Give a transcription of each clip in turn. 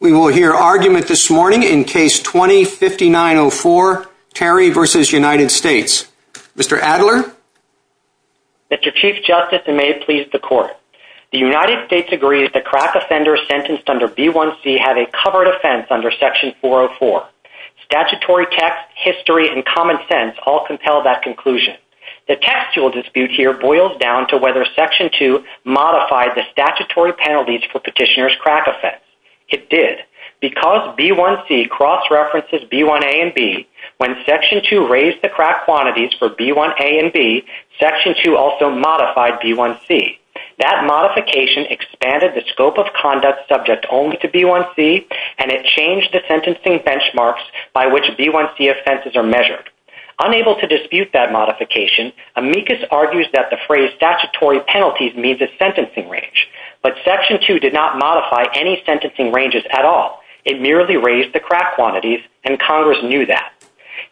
We will hear argument this morning in Case 20-5904, Terry v. United States. Mr. Adler? Mr. Chief Justice, and may it please the Court, the United States agrees that crack offenders sentenced under B-1C have a covered offense under Section 404. Statutory text, history, and common sense all compel that conclusion. The textual dispute here boils down to whether Section 2 modified the statutory penalties for petitioner's crack offense. It did. Because B-1C cross-references B-1A and B, when Section 2 raised the crack quantities for B-1A and B, Section 2 also modified B-1C. That modification expanded the scope of conduct subject only to B-1C, and it changed the sentencing benchmarks by which B-1C offenses are measured. Unable to dispute that modification, amicus argues that the phrase statutory penalties means a sentencing range. But Section 2 did not modify any sentencing ranges at all. It merely raised the crack quantities, and Congress knew that.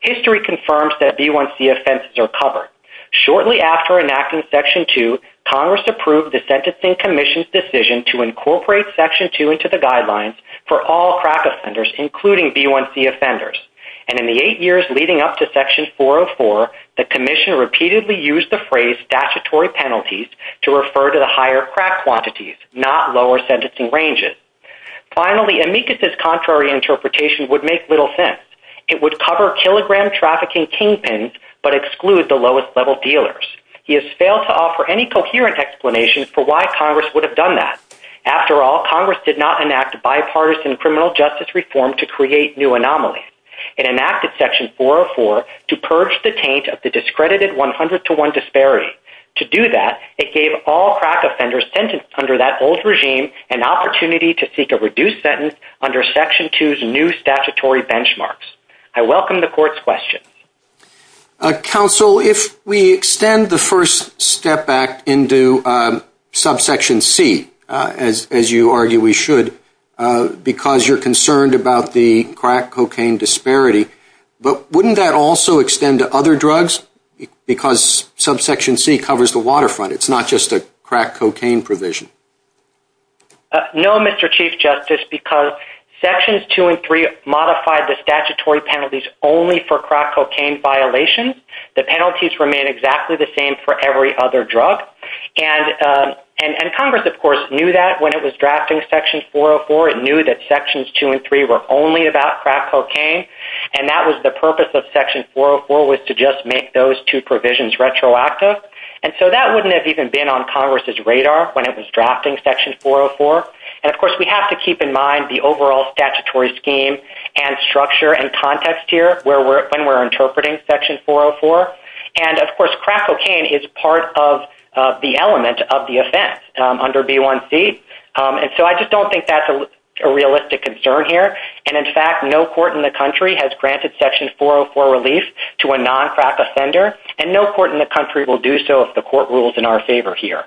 History confirms that B-1C offenses are covered. Shortly after enacting Section 2, Congress approved the Sentencing Commission's decision to incorporate Section 2 into the guidelines for all crack offenders, including B-1C offenders. And in the eight years leading up to Section 404, the Commission repeatedly used the phrase statutory penalties to refer to the higher crack quantities, not lower sentencing ranges. Finally, amicus's contrary interpretation would make little sense. It would cover kilogram trafficking kingpins, but exclude the lowest-level dealers. He has failed to offer any coherent explanation for why Congress would have done that. After all, Congress did not enact bipartisan criminal justice reform to create new anomalies. It enacted Section 404 to purge the taint of the discredited 100-to-1 disparity. To do that, it gave all crack offenders sentenced under that old regime an opportunity to seek a reduced sentence under Section 2's new statutory benchmarks. I welcome the Court's questions. Counsel, if we extend the First Step Act into Subsection C, as you argue we should, because you're concerned about the crack cocaine disparity, but wouldn't that also extend to other drugs? Because Subsection C covers the waterfront. It's not just a crack cocaine provision. No, Mr. Chief Justice, because Sections 2 and 3 modified the statutory penalties only for crack cocaine violations. The penalties remain exactly the same for every other drug. And Congress, of course, knew that when it was drafting Section 404. It knew that Sections 2 and 3 were only about crack cocaine, and that was the purpose of Section 404 was to just make those two provisions retroactive. And so that wouldn't have even been on Congress's radar when it was drafting Section 404. And, of course, we have to keep in mind the overall statutory scheme and structure and context here when we're interpreting Section 404. And, of course, crack cocaine is part of the element of the offense under B1C. And so I just don't think that's a realistic concern here. And, in fact, no court in the country has granted Section 404 relief to a non-crack offender. And no court in the country will do so if the court rules in our favor here.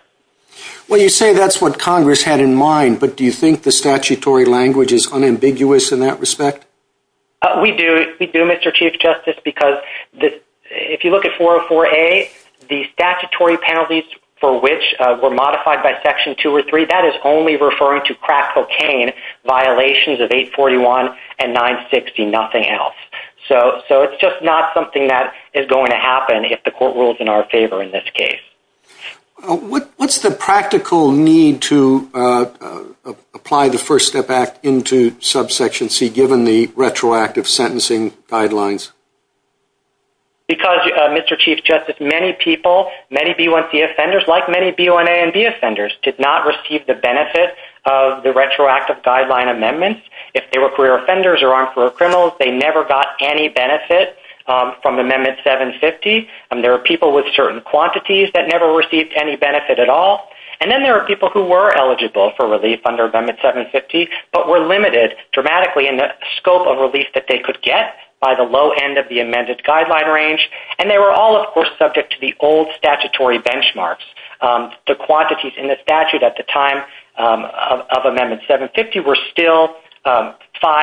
Well, you say that's what Congress had in mind, but do you think the statutory language is unambiguous in that respect? We do. We do, Mr. Chief Justice, because if you look at 404A, the statutory penalties for which were modified by Section 2 or 3, that is only referring to crack cocaine violations of 841 and 960, nothing else. So it's just not something that is going to happen if the court rules in our favor in this case. What's the practical need to apply the First Step Act into Subsection C given the retroactive sentencing guidelines? Because, Mr. Chief Justice, many people, many B1C offenders, like many B1A and B offenders, did not receive the benefit of the retroactive guideline amendments. If they were career offenders or on career criminals, they never got any benefit from Amendment 750. There are people with certain quantities that never received any benefit at all. And then there are people who were eligible for relief under Amendment 750, but were limited dramatically in the scope of relief that they could get by the low end of the amended guideline range. And they were all, of course, subject to the old statutory benchmarks. The quantities in the statute at the time of Amendment 750 were still 5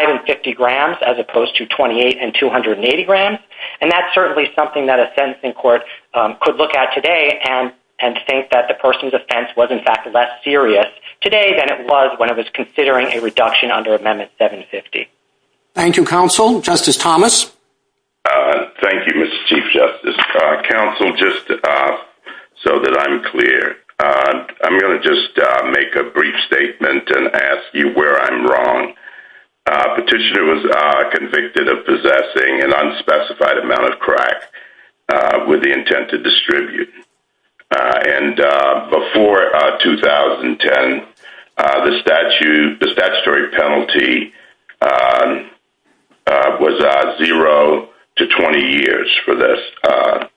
and 50 grams as opposed to 28 and 280 grams. And that's certainly something that a sentencing court could look at today and think that the person's offense was, in fact, less serious today than it was when it was considering a reduction under Amendment 750. Thank you, Counsel. Justice Thomas? Thank you, Mr. Chief Justice. Counsel, just so that I'm clear, I'm going to just make a brief statement and ask you where I'm wrong. Petitioner was convicted of possessing an unspecified amount of crack with the intent to distribute. And before 2010, the statutory penalty was 0 to 20 years for this offense.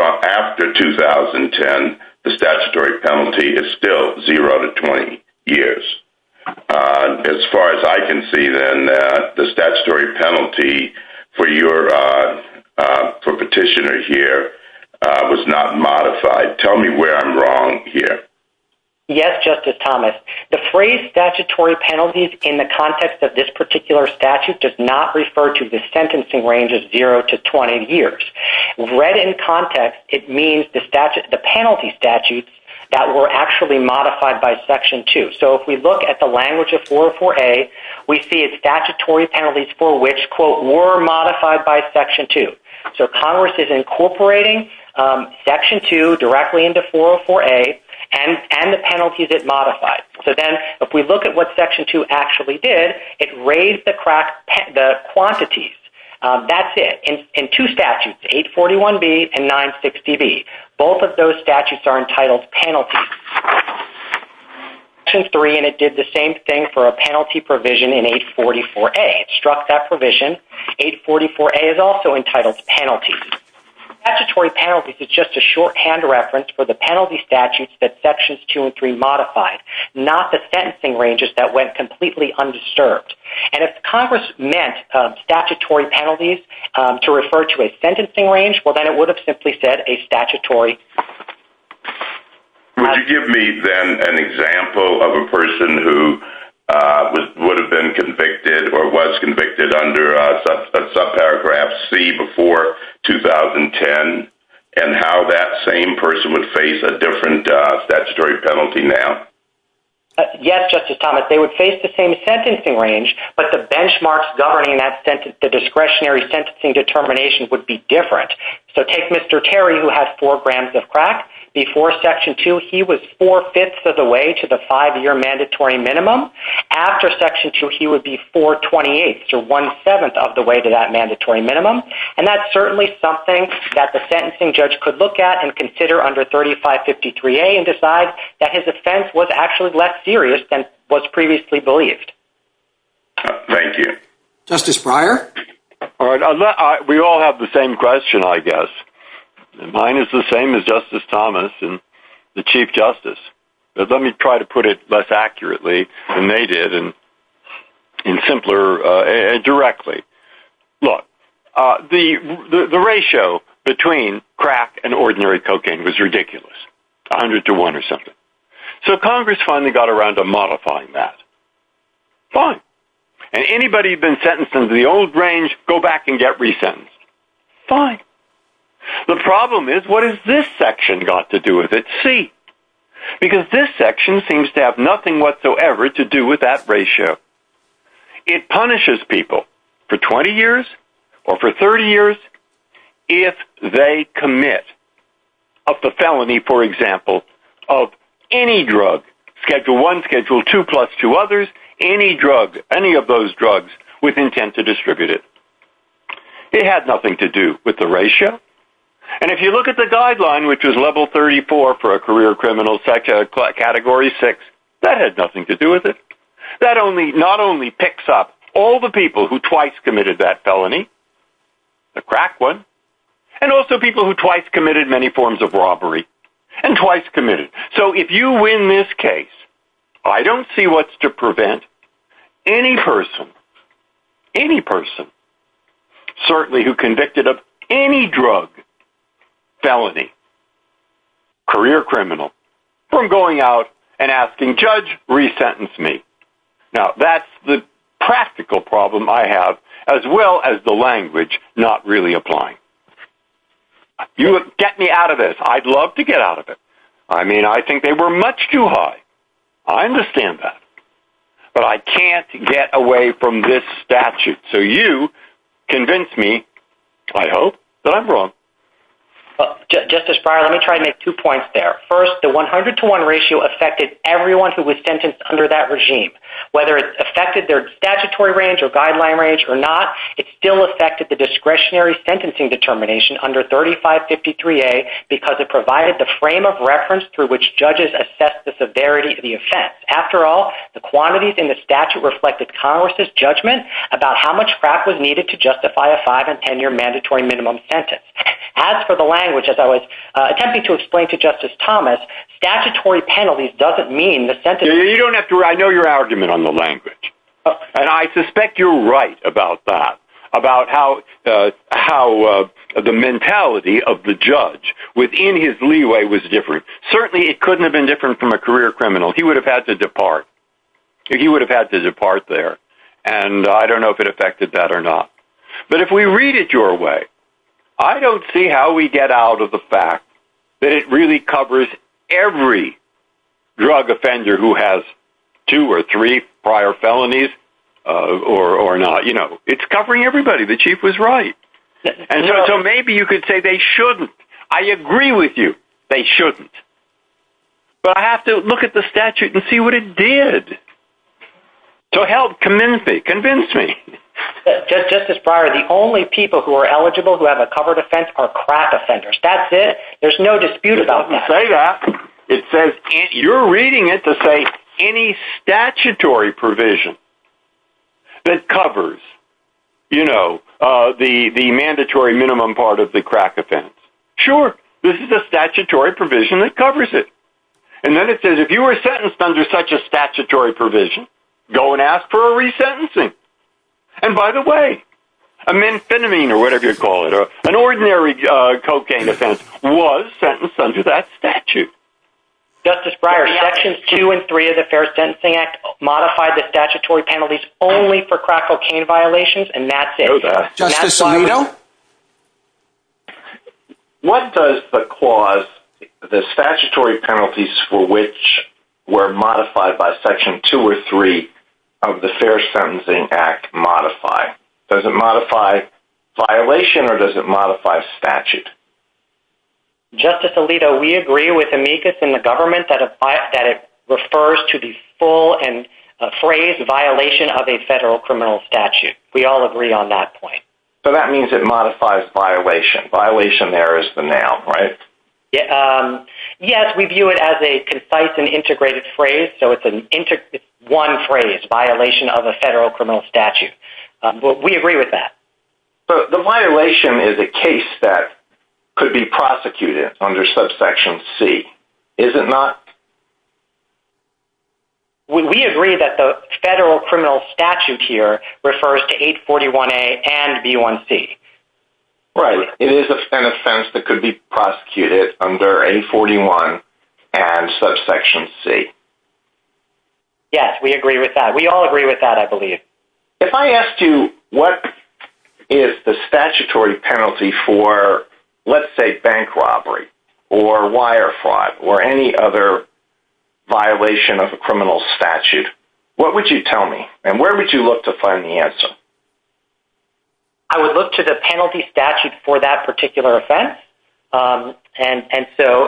After 2010, the statutory penalty is still 0 to 20 years. As far as I can see, then, the statutory penalty for Petitioner here was not modified. Tell me where I'm wrong here. Yes, Justice Thomas. The phrase statutory penalties in the context of this particular statute does not refer to the sentencing range of 0 to 20 years. Read in context, it means the penalty statutes that were actually modified by Section 2. So if we look at the language of 404A, we see it's statutory penalties for which, quote, were modified by Section 2. So Congress is incorporating Section 2 directly into 404A and the penalties it modified. So then if we look at what Section 2 actually did, it raised the quantities. That's it. In two statutes, 841B and 960B, both of those statutes are entitled penalties. Section 3 did the same thing for a penalty provision in 844A. It struck that provision. 844A is also entitled penalties. Statutory penalties is just a shorthand reference for the penalty statutes that Sections 2 and 3 modified, not the sentencing ranges that went completely undisturbed. And if Congress meant statutory penalties to refer to a sentencing range, well, then it would have simply said a statutory. Would you give me then an example of a person who would have been convicted or was convicted under subparagraph C before 2010 and how that same person would face a different statutory penalty now? Yes, Justice Thomas. They would face the same sentencing range, but the benchmarks governing the discretionary sentencing determination would be different. So take Mr. Terry, who has four grams of crack. Before Section 2, he was four-fifths of the way to the five-year mandatory minimum. After Section 2, he would be four-twenty-eighths or one-seventh of the way to that mandatory minimum. And that's certainly something that the sentencing judge could look at and consider under 3553A and decide that his offense was actually less serious than was previously believed. Thank you. Justice Breyer? We all have the same question, I guess. Mine is the same as Justice Thomas and the Chief Justice. Let me try to put it less accurately than they did and simpler and directly. Look, the ratio between crack and ordinary cocaine was ridiculous. A hundred to one or something. So Congress finally got around to modifying that. Fine. And anybody who's been sentenced under the old range, go back and get resentenced. Fine. The problem is, what has this section got to do with it? C. Because this section seems to have nothing whatsoever to do with that ratio. It punishes people for 20 years or for 30 years if they commit a felony, for example, of any drug, Schedule I, Schedule II, plus two others, any of those drugs with intent to distribute it. It had nothing to do with the ratio. And if you look at the guideline, which was Level 34 for a career criminal category 6, that had nothing to do with it. That not only picks up all the people who twice committed that felony, the crack one, and also people who twice committed many forms of robbery and twice committed. So if you win this case, I don't see what's to prevent any person, any person, certainly who convicted of any drug felony, career criminal, from going out and asking, Judge, resentence me. Now, that's the practical problem I have, as well as the language not really applying. Get me out of this. I'd love to get out of it. I mean, I think they were much too high. I understand that. But I can't get away from this statute. So you convince me, I hope, that I'm wrong. Justice Breyer, let me try to make two points there. First, the 100 to 1 ratio affected everyone who was sentenced under that regime. Whether it affected their statutory range or guideline range or not, it still affected the discretionary sentencing determination under 3553A because it provided the frame of reference through which judges assess the severity of the offense. After all, the quantities in the statute reflected Congress' judgment about how much crack was needed to justify a five- and ten-year mandatory minimum sentence. As for the language, as I was attempting to explain to Justice Thomas, statutory penalties doesn't mean the sentence… I know your argument on the language. And I suspect you're right about that, about how the mentality of the judge within his leeway was different. Certainly, it couldn't have been different from a career criminal. He would have had to depart. He would have had to depart there. And I don't know if it affected that or not. But if we read it your way, I don't see how we get out of the fact that it really covers every drug offender who has two or three prior felonies or not. It's covering everybody. The chief was right. And so maybe you could say they shouldn't. I agree with you. They shouldn't. But I have to look at the statute and see what it did to help convince me. Justice Breyer, the only people who are eligible who have a covered offense are crack offenders. That's it. There's no dispute about that. I'll say that. You're reading it to say any statutory provision that covers the mandatory minimum part of the crack offense. Sure. This is a statutory provision that covers it. And then it says if you were sentenced under such a statutory provision, go and ask for a resentencing. And by the way, amphetamine or whatever you call it, an ordinary cocaine offense was sentenced under that statute. Justice Breyer, Sections 2 and 3 of the Fair Sentencing Act modified the statutory penalties only for crack cocaine violations, and that's it. Justice Alito. What does the clause, the statutory penalties for which were modified by Section 2 or 3 of the Fair Sentencing Act modify? Does it modify violation or does it modify statute? Justice Alito, we agree with Amicus and the government that it refers to the full and appraised violation of a federal criminal statute. We all agree on that point. So that means it modifies violation. Violation there is the noun, right? Yes, we view it as a concise and integrated phrase, so it's one phrase, violation of a federal criminal statute. We agree with that. But the violation is a case that could be prosecuted under Subsection C, is it not? We agree that the federal criminal statute here refers to 841A and B1C. Right. It is an offense that could be prosecuted under 841 and Subsection C. Yes, we agree with that. We all agree with that, I believe. If I asked you what is the statutory penalty for, let's say, bank robbery or wire fraud or any other violation of a criminal statute, what would you tell me and where would you look to find the answer? I would look to the penalty statute for that particular offense.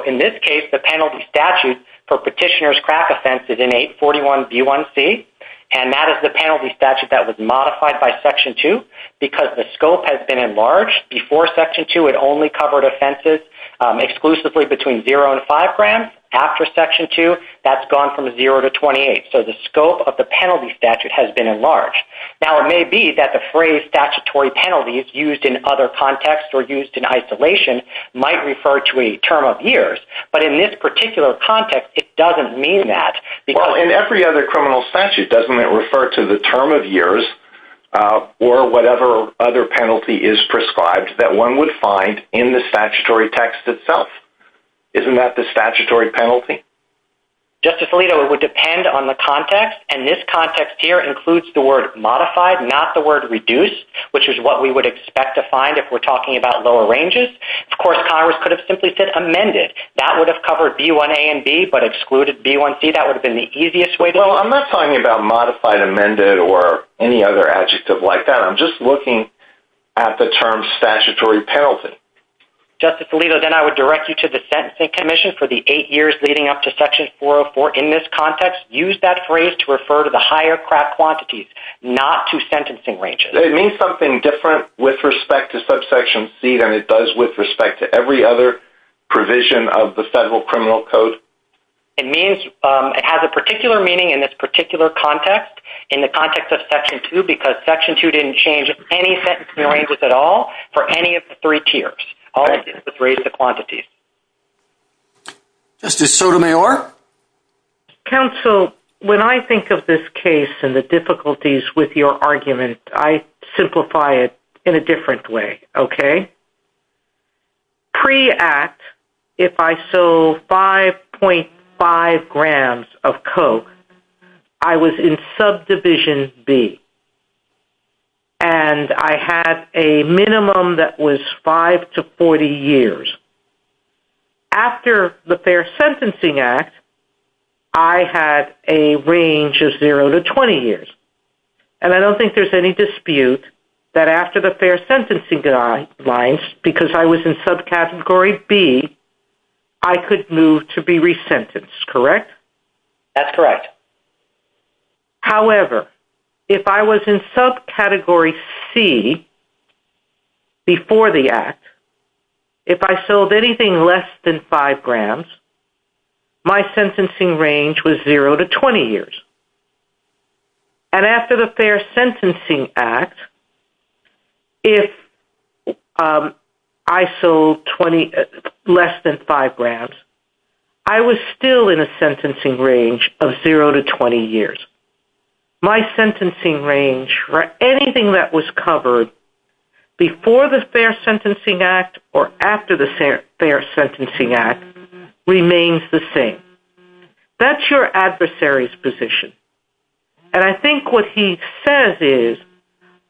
In this case, the penalty statute for Petitioner's Crack Offense is in 841B1C. And that is the penalty statute that was modified by Section 2 because the scope has been enlarged. Before Section 2, it only covered offenses exclusively between 0 and 5 grams. After Section 2, that's gone from 0 to 28. So the scope of the penalty statute has been enlarged. Now, it may be that the phrase statutory penalty is used in other contexts or used in isolation might refer to a term of years. But in this particular context, it doesn't mean that. Well, in every other criminal statute, doesn't it refer to the term of years or whatever other penalty is prescribed that one would find in the statutory text itself? Isn't that the statutory penalty? Justice Alito, it would depend on the context. And this context here includes the word modified, not the word reduced, which is what we would expect to find if we're talking about lower ranges. Of course, Congress could have simply said amended. That would have covered B1A and B, but excluded B1C. That would have been the easiest way. Well, I'm not talking about modified, amended, or any other adjective like that. I'm just looking at the term statutory penalty. Justice Alito, then I would direct you to the Sentencing Commission for the eight years leading up to Section 404 in this context. Use that phrase to refer to the higher craft quantities, not to sentencing ranges. It means something different with respect to subsection C than it does with respect to every other provision of the Federal Criminal Code. It has a particular meaning in this particular context, in the context of Section 2, because Section 2 didn't change any sentencing ranges at all for any of the three tiers. All it did was raise the quantities. Justice Sotomayor? Counsel, when I think of this case and the difficulties with your argument, I simplify it in a different way, okay? Pre-Act, if I sold 5.5 grams of coke, I was in Subdivision B, and I had a minimum that was five to 40 years. After the Fair Sentencing Act, I had a range of zero to 20 years. And I don't think there's any dispute that after the Fair Sentencing Act, because I was in Subcategory B, I could move to be resentenced, correct? That's correct. However, if I was in Subcategory C before the Act, if I sold anything less than 5 grams, my sentencing range was zero to 20 years. And after the Fair Sentencing Act, if I sold less than 5 grams, I was still in a sentencing range of zero to 20 years. My sentencing range for anything that was covered before the Fair Sentencing Act or after the Fair Sentencing Act remains the same. That's your adversary's position. And I think what he says is,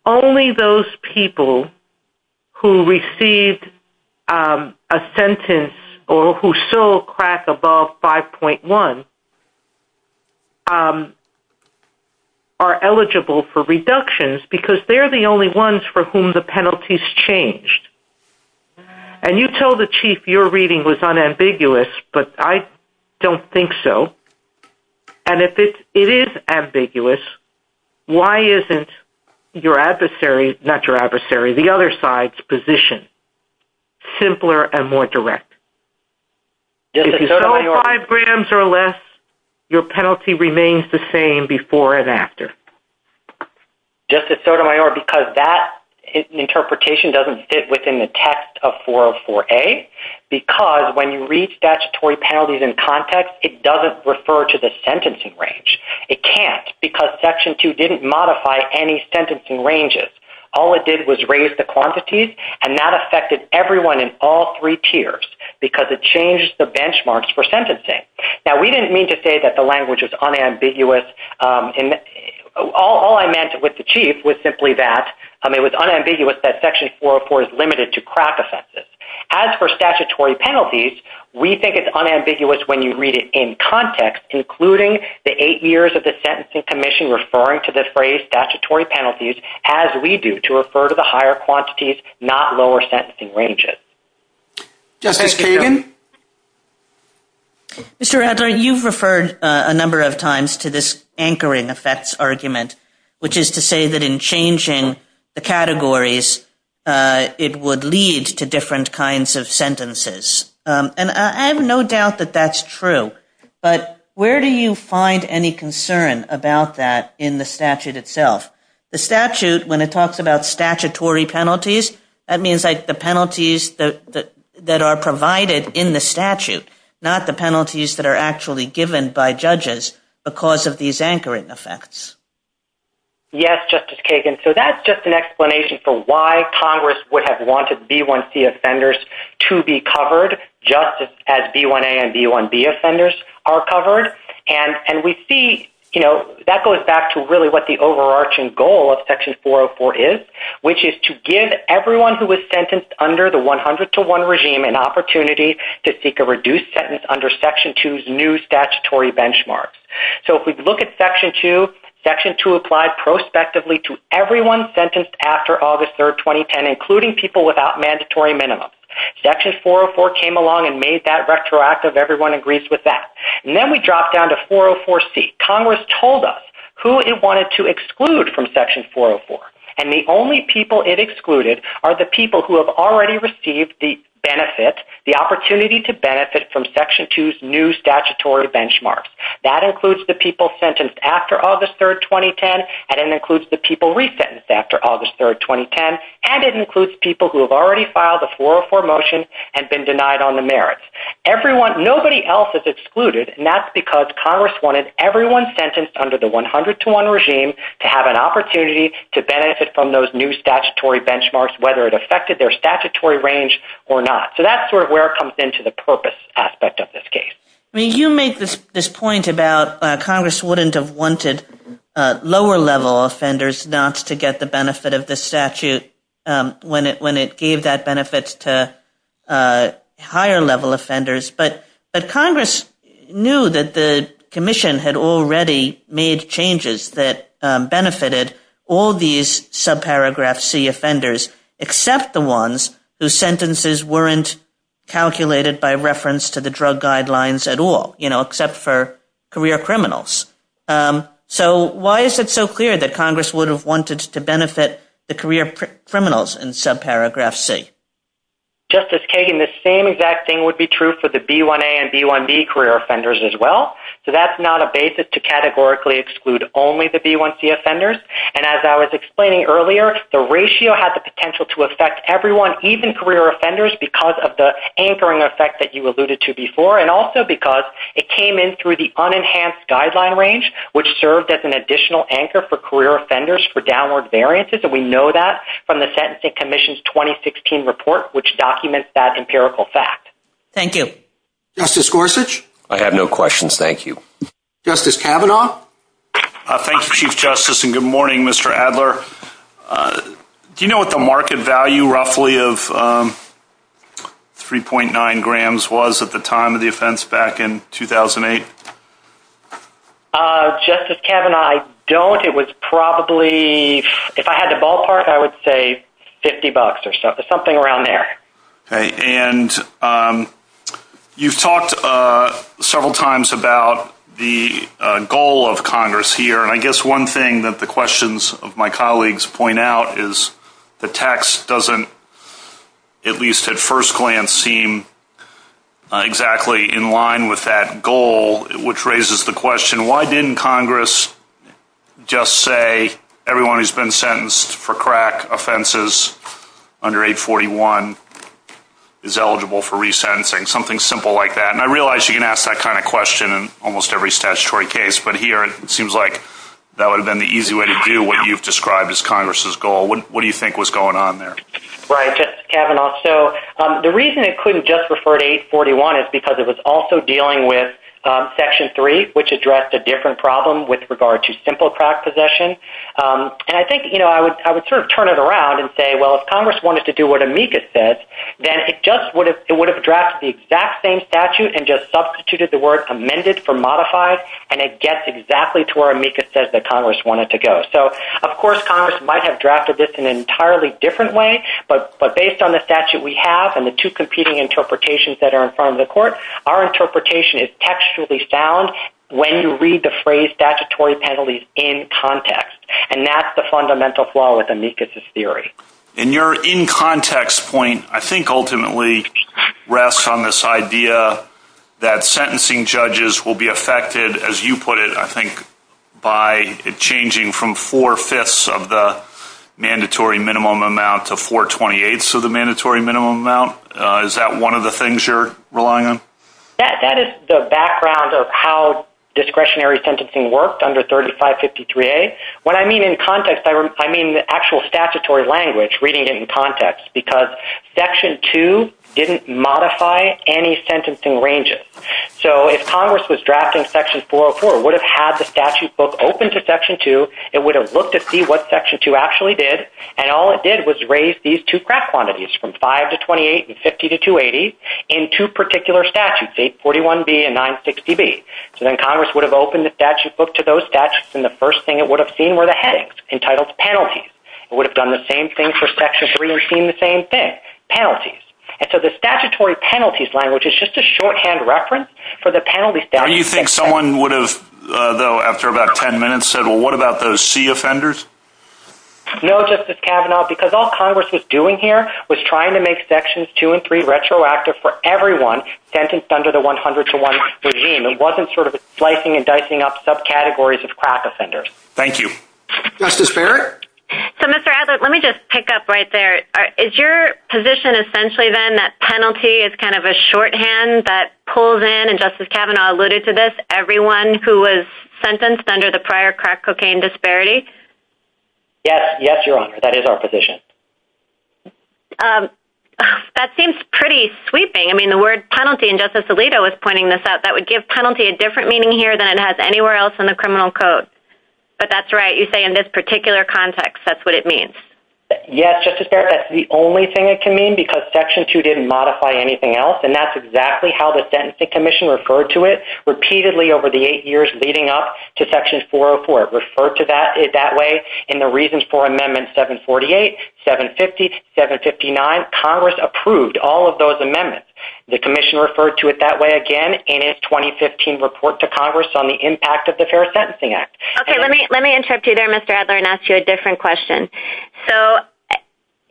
only those people who received a sentence or who sold crack above 5.1 are eligible for reductions, because they're the only ones for whom the penalties changed. And you told the Chief your reading was unambiguous, but I don't think so. And if it is ambiguous, why isn't your adversary's position simpler and more direct? If you sold 5 grams or less, your penalty remains the same before and after. Justice Sotomayor, because that interpretation doesn't fit within the text of 404A, because when you read statutory penalties in context, it doesn't refer to the sentencing range. It can't, because Section 2 didn't modify any sentencing ranges. All it did was raise the quantities, and that affected everyone in all three tiers, because it changed the benchmarks for sentencing. Now, we didn't mean to say that the language was unambiguous. All I meant with the Chief was simply that it was unambiguous that Section 404 is limited to crack offenses. As for statutory penalties, we think it's unambiguous when you read it in context, including the eight years of the Sentencing Commission referring to the phrase statutory penalties, as we do, to refer to the higher quantities, not lower sentencing ranges. Justice Kagan? Mr. Adler, you've referred a number of times to this anchoring effects argument, which is to say that in changing the categories, it would lead to different kinds of sentences. And I have no doubt that that's true, but where do you find any concern about that in the statute itself? The statute, when it talks about statutory penalties, that means the penalties that are provided in the statute, not the penalties that are actually given by judges because of these anchoring effects. Yes, Justice Kagan. So that's just an explanation for why Congress would have wanted B1C offenders to be covered, just as B1A and B1B offenders are covered. And we see that goes back to really what the overarching goal of Section 404 is, which is to give everyone who is sentenced under the 100-to-1 regime an opportunity to seek a reduced sentence under Section 2's new statutory benchmarks. So if we look at Section 2, Section 2 applies prospectively to everyone sentenced after August 3, 2010, including people without mandatory minimums. Section 404 came along and made that retroactive. Everyone agrees with that. And then we drop down to 404C. Congress told us who it wanted to exclude from Section 404, and the only people it excluded are the people who have already received the benefit, the opportunity to benefit from Section 2's new statutory benchmarks. That includes the people sentenced after August 3, 2010, and it includes the people resentenced after August 3, 2010, and it includes people who have already filed a 404 motion and been denied on the merits. Nobody else is excluded, and that's because Congress wanted everyone sentenced under the 100-to-1 regime to have an opportunity to benefit from those new statutory benchmarks, whether it affected their statutory range or not. So that's where it comes into the purpose aspect of this case. I mean, you make this point about Congress wouldn't have wanted lower-level offenders not to get the benefit of the statute when it gave that benefit to higher-level offenders, but Congress knew that the commission had already made changes that benefited all these subparagraph C offenders except the ones whose sentences weren't calculated by reference to the drug guidelines at all, except for career criminals. So why is it so clear that Congress would have wanted to benefit the career criminals in subparagraph C? Justice Kagan, the same exact thing would be true for the B1A and B1B career offenders as well. So that's not a basis to categorically exclude only the B1C offenders. And as I was explaining earlier, the ratio has the potential to affect everyone, even career offenders, because of the anchoring effect that you alluded to before, and also because it came in through the unenhanced guideline range, which served as an additional anchor for career offenders for downward variances. And we know that from the Sentencing Commission's 2016 report, which documents that empirical fact. Thank you. Justice Gorsuch? I have no questions. Thank you. Justice Kavanaugh? Thank you, Chief Justice, and good morning, Mr. Adler. Do you know what the market value roughly of 3.9 grams was at the time of the offense back in 2008? Justice Kavanaugh, I don't. It was probably, if I had the ballpark, I would say $50 or something around there. Okay. And you've talked several times about the goal of Congress here, and I guess one thing that the questions of my colleagues point out is the text doesn't, at least at first glance, seem exactly in line with that goal, which raises the question, why didn't Congress just say everyone who's been sentenced for crack offenses under 841 is eligible for resentencing, something simple like that? And I realize you can ask that kind of question in almost every statutory case, but here it seems like that would have been the easy way to do what you've described as Congress's goal. What do you think was going on there? Right. Justice Kavanaugh, so the reason it couldn't just refer to 841 is because it was also dealing with Section 3, which addressed a different problem with regard to simple crack possession. And I think, you know, I would sort of turn it around and say, well, if Congress wanted to do what Amicus says, then it just would have drafted the exact same statute and just substituted the word amended for modified, and it gets exactly to where Amicus says that Congress wanted to go. So, of course, Congress might have drafted this in an entirely different way, but based on the statute we have and the two competing interpretations that are in front of the court, our interpretation is textually sound when you read the phrase statutory penalties in context, and that's the fundamental flaw with Amicus's theory. And your in-context point, I think, ultimately rests on this idea that sentencing judges will be affected, as you put it, I think, by changing from four-fifths of the mandatory minimum amount to four-twenty-eighths of the mandatory minimum amount. Is that one of the things you're relying on? That is the background of how discretionary sentencing worked under 3553A. When I mean in context, I mean the actual statutory language, reading it in context, because Section 2 didn't modify any sentencing ranges. So if Congress was drafting Section 404, it would have had the statute book open to Section 2, it would have looked to see what Section 2 actually did, and all it did was raise these two craft quantities from 5 to 28 and 50 to 280 in two particular statutes, 841B and 960B. So then Congress would have opened the statute book to those statutes, and the first thing it would have seen were the headings entitled penalties. It would have done the same thing for Section 3 or seen the same thing, penalties. And so the statutory penalties language is just a shorthand reference for the penalty statute. Do you think someone would have, though, after about ten minutes, said, well, what about those C offenders? No, Justice Kavanaugh, because all Congress was doing here was trying to make Sections 2 and 3 retroactive for everyone sentenced under the 100 to 1 regime. It wasn't sort of slicing and dicing up subcategories of craft offenders. Thank you. Justice Barrett? So, Mr. Adler, let me just pick up right there. Is your position essentially then that penalty is kind of a shorthand that pulls in, and Justice Kavanaugh alluded to this, everyone who was sentenced under the prior craft cocaine disparity? Yes. Yes, Your Honor. That is our position. That seems pretty sweeping. I mean, the word penalty, and Justice Alito was pointing this out, that would give penalty a different meaning here than it has anywhere else in the criminal code. But that's right. You say in this particular context, that's what it means. Yes, Justice Barrett. That's the only thing it can mean because Section 2 didn't modify anything else, and that's exactly how the Sentencing Commission referred to it repeatedly over the eight years leading up to Section 404. It referred to it that way in the reasons for Amendment 748, 750, 759. Congress approved all of those amendments. The Commission referred to it that way again in its 2015 report to Congress on the impact of the Fair Sentencing Act. Okay. Let me interrupt you there, Mr. Adler, and ask you a different question. So,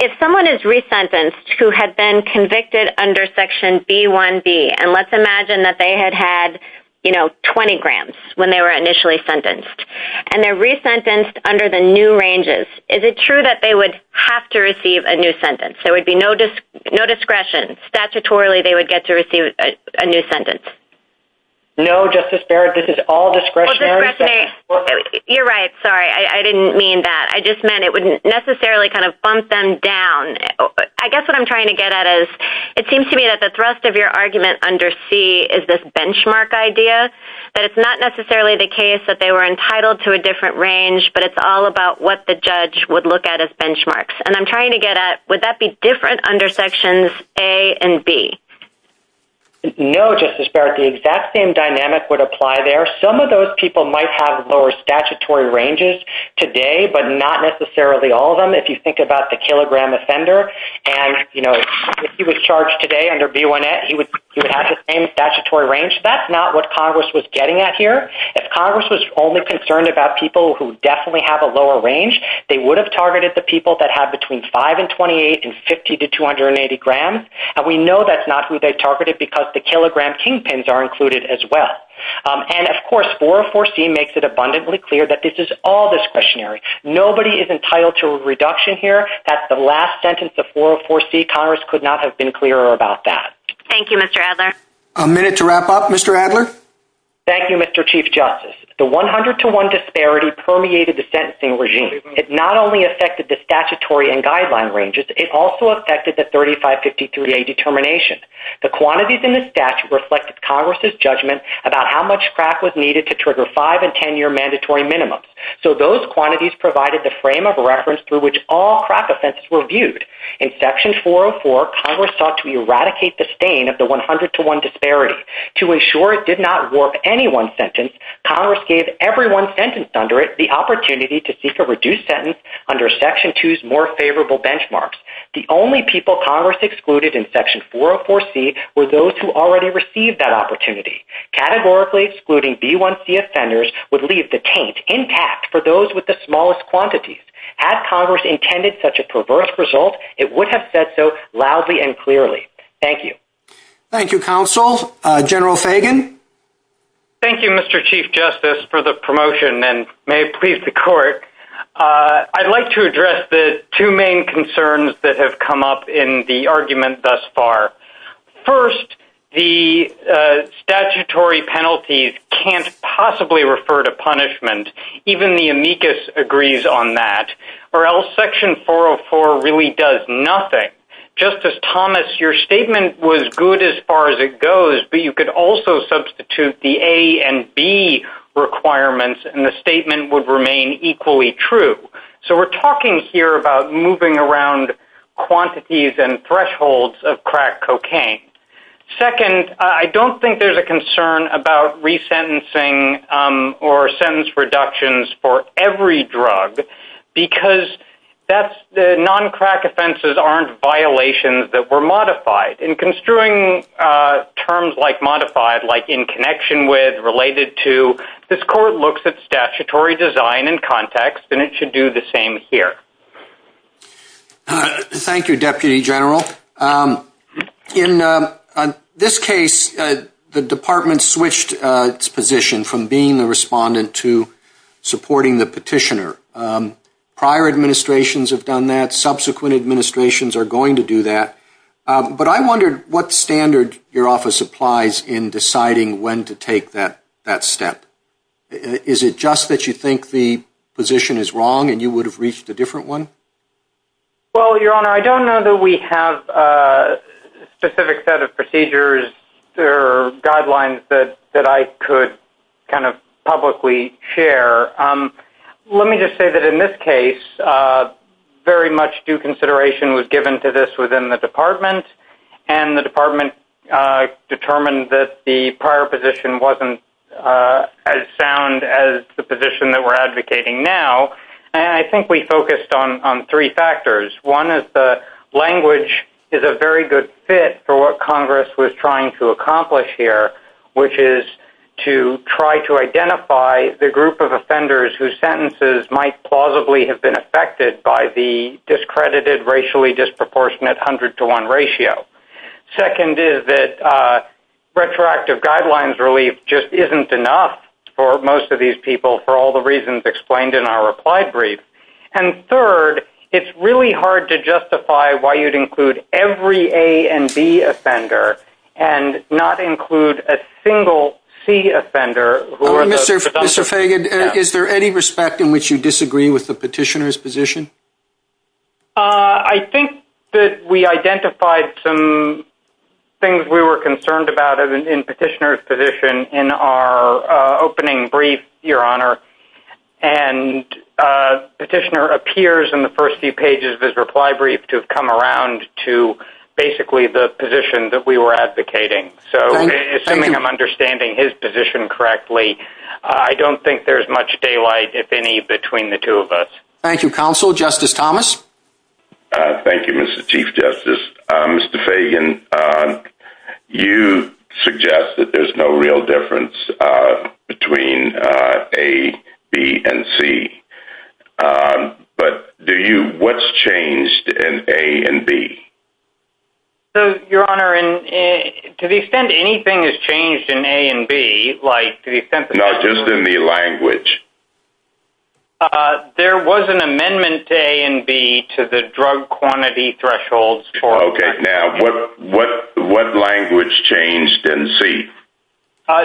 if someone is resentenced who had been convicted under Section B1B, and let's imagine that they had had, you know, 20 grams when they were initially sentenced, and they're resentenced under the new ranges, is it true that they would have to receive a new sentence? There would be no discretion. Statutorily, they would get to receive a new sentence. No, Justice Barrett. This is all discretionary. You're right. Sorry. I didn't mean that. I just meant it wouldn't necessarily kind of bump them down. I guess what I'm trying to get at is it seems to me that the thrust of your argument under C is this benchmark idea, that it's not necessarily the case that they were entitled to a different range, but it's all about what the judge would look at as benchmarks. And I'm trying to get at would that be different under Sections A and B? No, Justice Barrett. The exact same dynamic would apply there. Some of those people might have lower statutory ranges today, but not necessarily all of them. If you think about the kilogram offender and, you know, if he was charged today under B1N, he would have the same statutory range. That's not what Congress was getting at here. If Congress was only concerned about people who definitely have a lower range, they would have targeted the people that have between 5 and 28 and 50 to 280 grams, and we know that's not who they targeted because the kilogram kingpins are included as well. And, of course, 404C makes it abundantly clear that this is all discretionary. Nobody is entitled to a reduction here. That's the last sentence of 404C. Congress could not have been clearer about that. Thank you, Mr. Adler. A minute to wrap up. Mr. Adler? Thank you, Mr. Chief Justice. The 100-to-1 disparity permeated the sentencing regime. It not only affected the statutory and guideline ranges, it also affected the 3553A determination. The quantities in the statute reflected Congress's judgment about how much crack was needed to trigger 5- and 10-year mandatory minimums. So those quantities provided the frame of reference through which all crack offenses were viewed. In Section 404, Congress sought to eradicate the stain of the 100-to-1 disparity. To ensure it did not warp any one sentence, Congress gave everyone sentenced under it the opportunity to seek a reduced sentence under Section 2's more favorable benchmarks. The only people Congress excluded in Section 404C were those who already received that opportunity. Categorically excluding B1C offenders would leave the taint intact for those with the smallest quantities. Had Congress intended such a perverse result, it would have said so loudly and clearly. Thank you. Thank you, Counsel. General Sagan? Thank you, Mr. Chief Justice, for the promotion, and may it please the Court. I'd like to address the two main concerns that have come up in the argument thus far. First, the statutory penalties can't possibly refer to punishment. Even the amicus agrees on that. Or else Section 404 really does nothing. Justice Thomas, your statement was good as far as it goes, but you could also substitute the A and B requirements, and the statement would remain equally true. So we're talking here about moving around quantities and thresholds of crack cocaine. Second, I don't think there's a concern about resentencing or sentence reductions for every drug, because the non-crack offenses aren't violations that were modified. In construing terms like modified, like in connection with, related to, this Court looks at statutory design and context, and it should do the same here. Thank you, Deputy General. In this case, the Department switched its position from being the respondent to supporting the petitioner. Prior administrations have done that. Subsequent administrations are going to do that. But I wondered what standard your office applies in deciding when to take that step. Is it just that you think the position is wrong and you would have reached a different one? Well, Your Honor, I don't know that we have a specific set of procedures or guidelines that I could kind of publicly share. Let me just say that in this case, very much due consideration was given to this within the Department, and the Department determined that the prior position wasn't as sound as the position that we're advocating now. And I think we focused on three factors. One is the language is a very good fit for what Congress was trying to accomplish here, which is to try to identify the group of offenders whose sentences might plausibly have been affected by the discredited racially disproportionate 100-to-1 ratio. Second is that retroactive guidelines relief just isn't enough for most of these people for all the reasons explained in our reply brief. And third, it's really hard to justify why you'd include every A and B offender and not include a single C offender. Mr. Fagan, is there any respect in which you disagree with the petitioner's position? I think that we identified some things we were concerned about in petitioner's position in our opening brief, Your Honor, and petitioner appears in the first few pages of his reply brief to have come around to basically the position that we were advocating. So, assuming I'm understanding his position correctly, I don't think there's much daylight, if any, between the two of us. Thank you, Counsel. Justice Thomas? Thank you, Mr. Chief Justice. Mr. Fagan, you suggest that there's no real difference between A, B, and C. But what's changed in A and B? Your Honor, to the extent anything has changed in A and B, like to the extent that- No, just in the language. There was an amendment to A and B to the drug quantity thresholds for- Okay. Now, what language changed in C?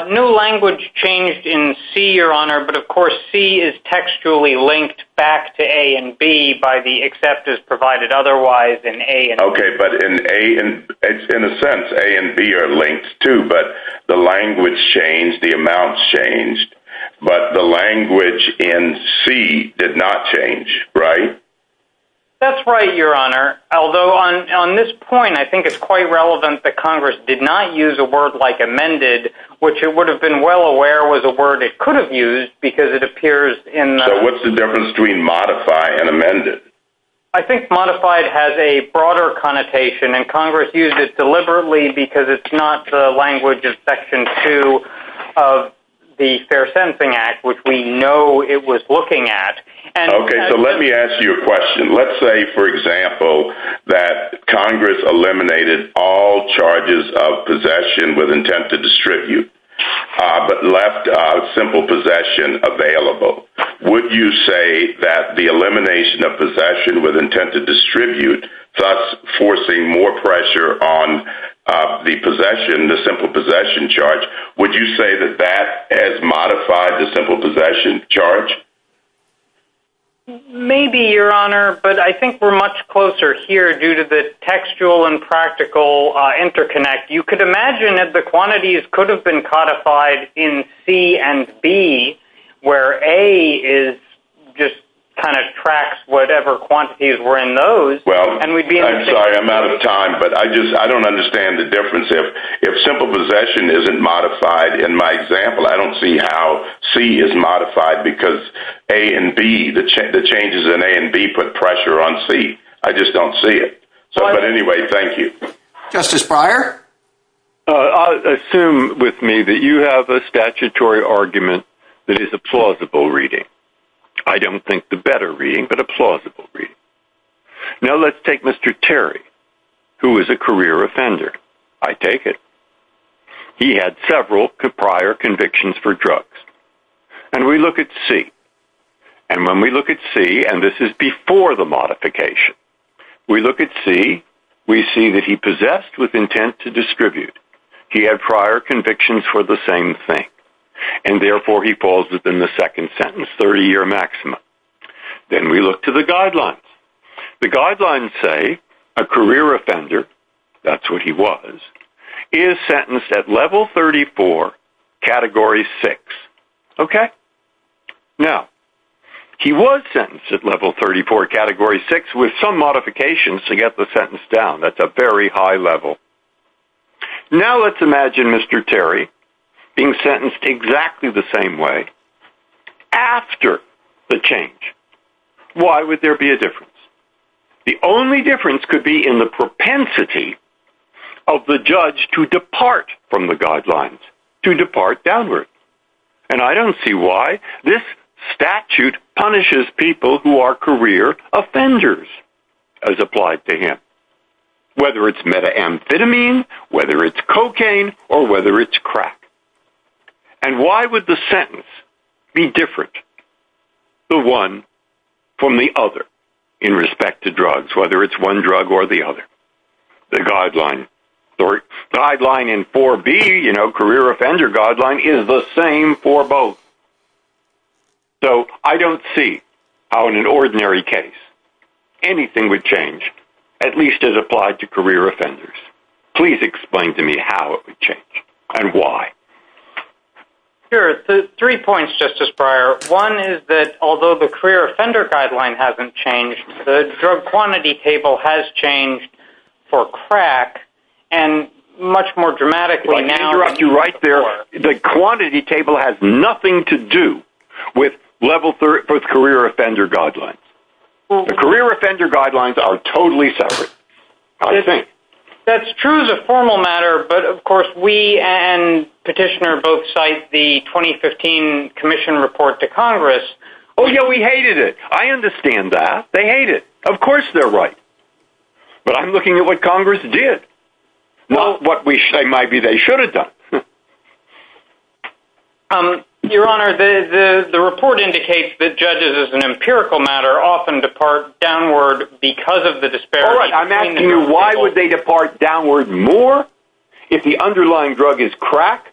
No language changed in C, Your Honor. But, of course, C is textually linked back to A and B by the acceptors provided otherwise in A and B. Okay, but in a sense, A and B are linked, too. But the language changed, the amount changed, but the language in C did not change, right? That's right, Your Honor. Although, on this point, I think it's quite relevant that Congress did not use a word like amended, which it would have been well aware was a word it could have used because it appears in- So what's the difference between modify and amended? I think modified has a broader connotation, and Congress used it deliberately because it's not the language of Section 2 of the Fair Sentencing Act, which we know it was looking at. Let's say, for example, that Congress eliminated all charges of possession with intent to distribute but left simple possession available. Would you say that the elimination of possession with intent to distribute, thus forcing more pressure on the possession, the simple possession charge, would you say that that has modified the simple possession charge? Maybe, Your Honor, but I think we're much closer here due to the textual and practical interconnect. You could imagine that the quantities could have been codified in C and B, where A just kind of tracks whatever quantities were in those. Well, I'm sorry, I'm out of time, but I don't understand the difference. If simple possession isn't modified in my example, I don't see how C is modified because A and B, the changes in A and B put pressure on C. I just don't see it. But anyway, thank you. Justice Breyer? I assume with me that you have a statutory argument that is a plausible reading. I don't think the better reading, but a plausible reading. Now let's take Mr. Terry, who is a career offender. I take it. He had several prior convictions for drugs. And we look at C. And when we look at C, and this is before the modification, we look at C, we see that he possessed with intent to distribute. He had prior convictions for the same thing. And therefore, he falls within the second sentence, 30-year maximum. Then we look to the guidelines. The guidelines say a career offender, that's what he was, is sentenced at level 34, category 6. Okay? Now, he was sentenced at level 34, category 6, with some modifications to get the sentence down. That's a very high level. Now let's imagine Mr. Terry being sentenced exactly the same way, after the change. Why would there be a difference? The only difference could be in the propensity of the judge to depart from the guidelines, to depart downward. And I don't see why. This statute punishes people who are career offenders, as applied to him. Whether it's methamphetamine, whether it's cocaine, or whether it's crack. And why would the sentence be different, the one from the other, in respect to drugs, whether it's one drug or the other? The guideline in 4B, you know, career offender guideline, is the same for both. So I don't see how in an ordinary case anything would change. At least as applied to career offenders. Please explain to me how it would change, and why. Sure. Three points, Justice Breyer. One is that although the career offender guideline hasn't changed, the drug quantity table has changed for crack. And much more dramatically now... Let me interrupt you right there. The quantity table has nothing to do with career offender guidelines. The career offender guidelines are totally separate. That's true as a formal matter, but of course we and Petitioner both cite the 2015 commission report to Congress. Oh yeah, we hated it. I understand that. They hate it. Of course they're right. But I'm looking at what Congress did. Not what we say maybe they should have done. Your Honor, the report indicates that judges, as an empirical matter, often depart downward because of the disparities. All right. I'm asking you why would they depart downward more if the underlying drug is crack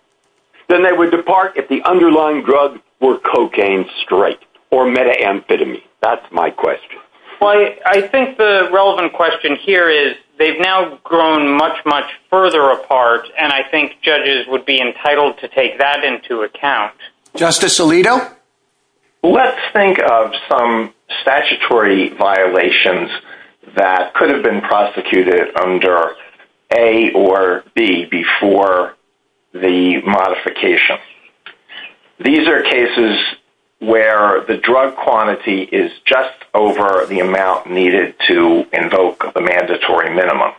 than they would depart if the underlying drug were cocaine straight or methamphetamine. That's my question. I think the relevant question here is they've now grown much, much further apart, and I think judges would be entitled to take that into account. Justice Alito? Let's think of some statutory violations that could have been prosecuted under A or B before the modification. These are cases where the drug quantity is just over the amount needed to invoke the mandatory minimum.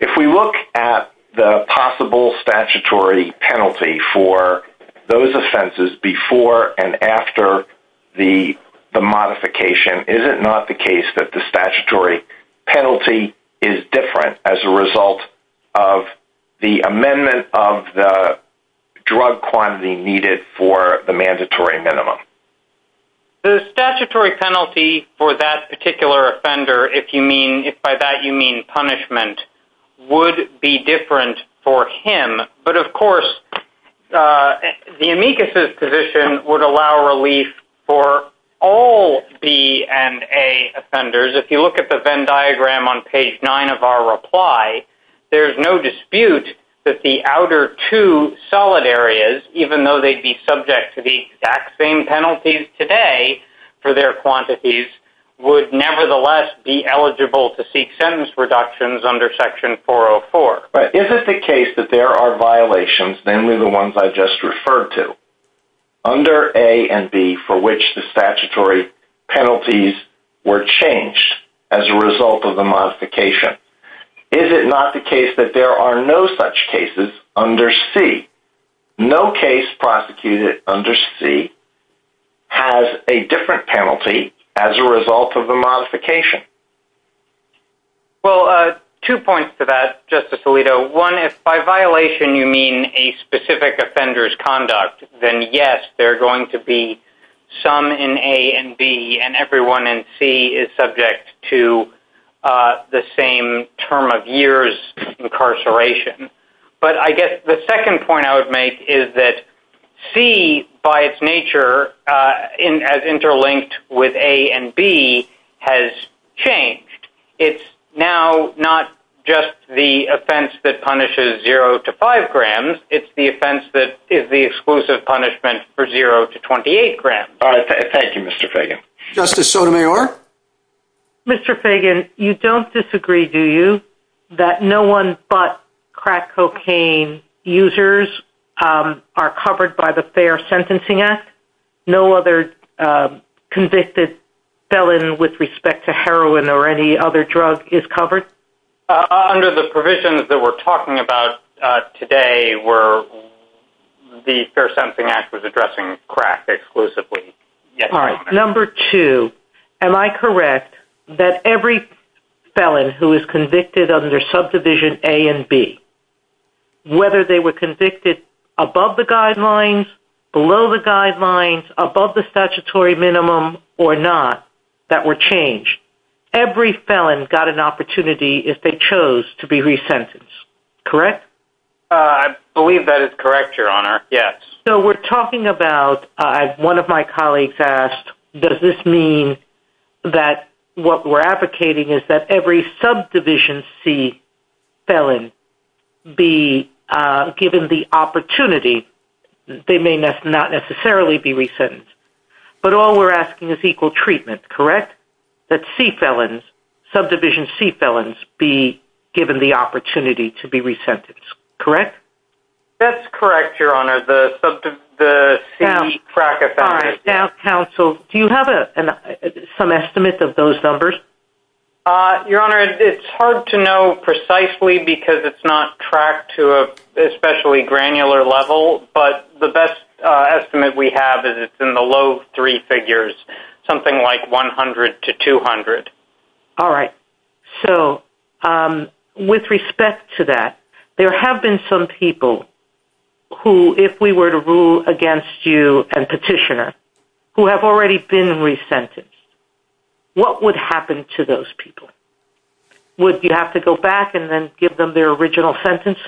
If we look at the possible statutory penalty for those offenses before and after the modification, is it not the case that the statutory penalty is different as a result of the amendment of the drug quantity needed for the mandatory minimum? The statutory penalty for that particular offender, if by that you mean punishment, would be different for him. But, of course, the amicus's position would allow relief for all B and A offenders. If you look at the Venn diagram on page 9 of our reply, there's no dispute that the outer two solid areas, even though they'd be subject to the exact same penalties today for their quantities, would nevertheless be eligible to seek sentence reductions under section 404. But is it the case that there are violations, namely the ones I just referred to, under A and B for which the statutory penalties were changed as a result of the modification? Is it not the case that there are no such cases under C? No case prosecuted under C has a different penalty as a result of the modification. Well, two points to that, Justice Alito. One, if by violation you mean a specific offender's conduct, then yes, there are going to be some in A and B, and everyone in C is subject to the same term of years incarceration. But I guess the second point I would make is that C, by its nature, as interlinked with A and B, has changed. It's now not just the offense that punishes 0 to 5 grams. It's the offense that is the exclusive punishment for 0 to 28 grams. Thank you, Mr. Fagan. Justice Sotomayor? Mr. Fagan, you don't disagree, do you, that no one but crack cocaine users are covered by the Fair Sentencing Act? No other convicted felon with respect to heroin or any other drug is covered? Under the provisions that we're talking about today, the Fair Sentencing Act was addressing crack exclusively. All right. Number two, am I correct that every felon who is convicted under subdivision A and B, whether they were convicted above the guidelines, below the guidelines, above the statutory minimum, or not, that were changed, every felon got an opportunity if they chose to be resentenced, correct? I believe that is correct, Your Honor, yes. So we're talking about, one of my colleagues asked, does this mean that what we're advocating is that every subdivision C felon be given the opportunity, they may not necessarily be resentenced, but all we're asking is equal treatment, correct? That C felons, subdivision C felons, be given the opportunity to be resentenced, correct? That's correct, Your Honor, the C crack offenders. Now, counsel, do you have some estimate of those numbers? Your Honor, it's hard to know precisely because it's not tracked to an especially granular level, but the best estimate we have is it's in the low three figures, something like 100 to 200. All right, so with respect to that, there have been some people who, if we were to rule against you and petitioner, who have already been resentenced, what would happen to those people? Would you have to go back and then give them their original sentence?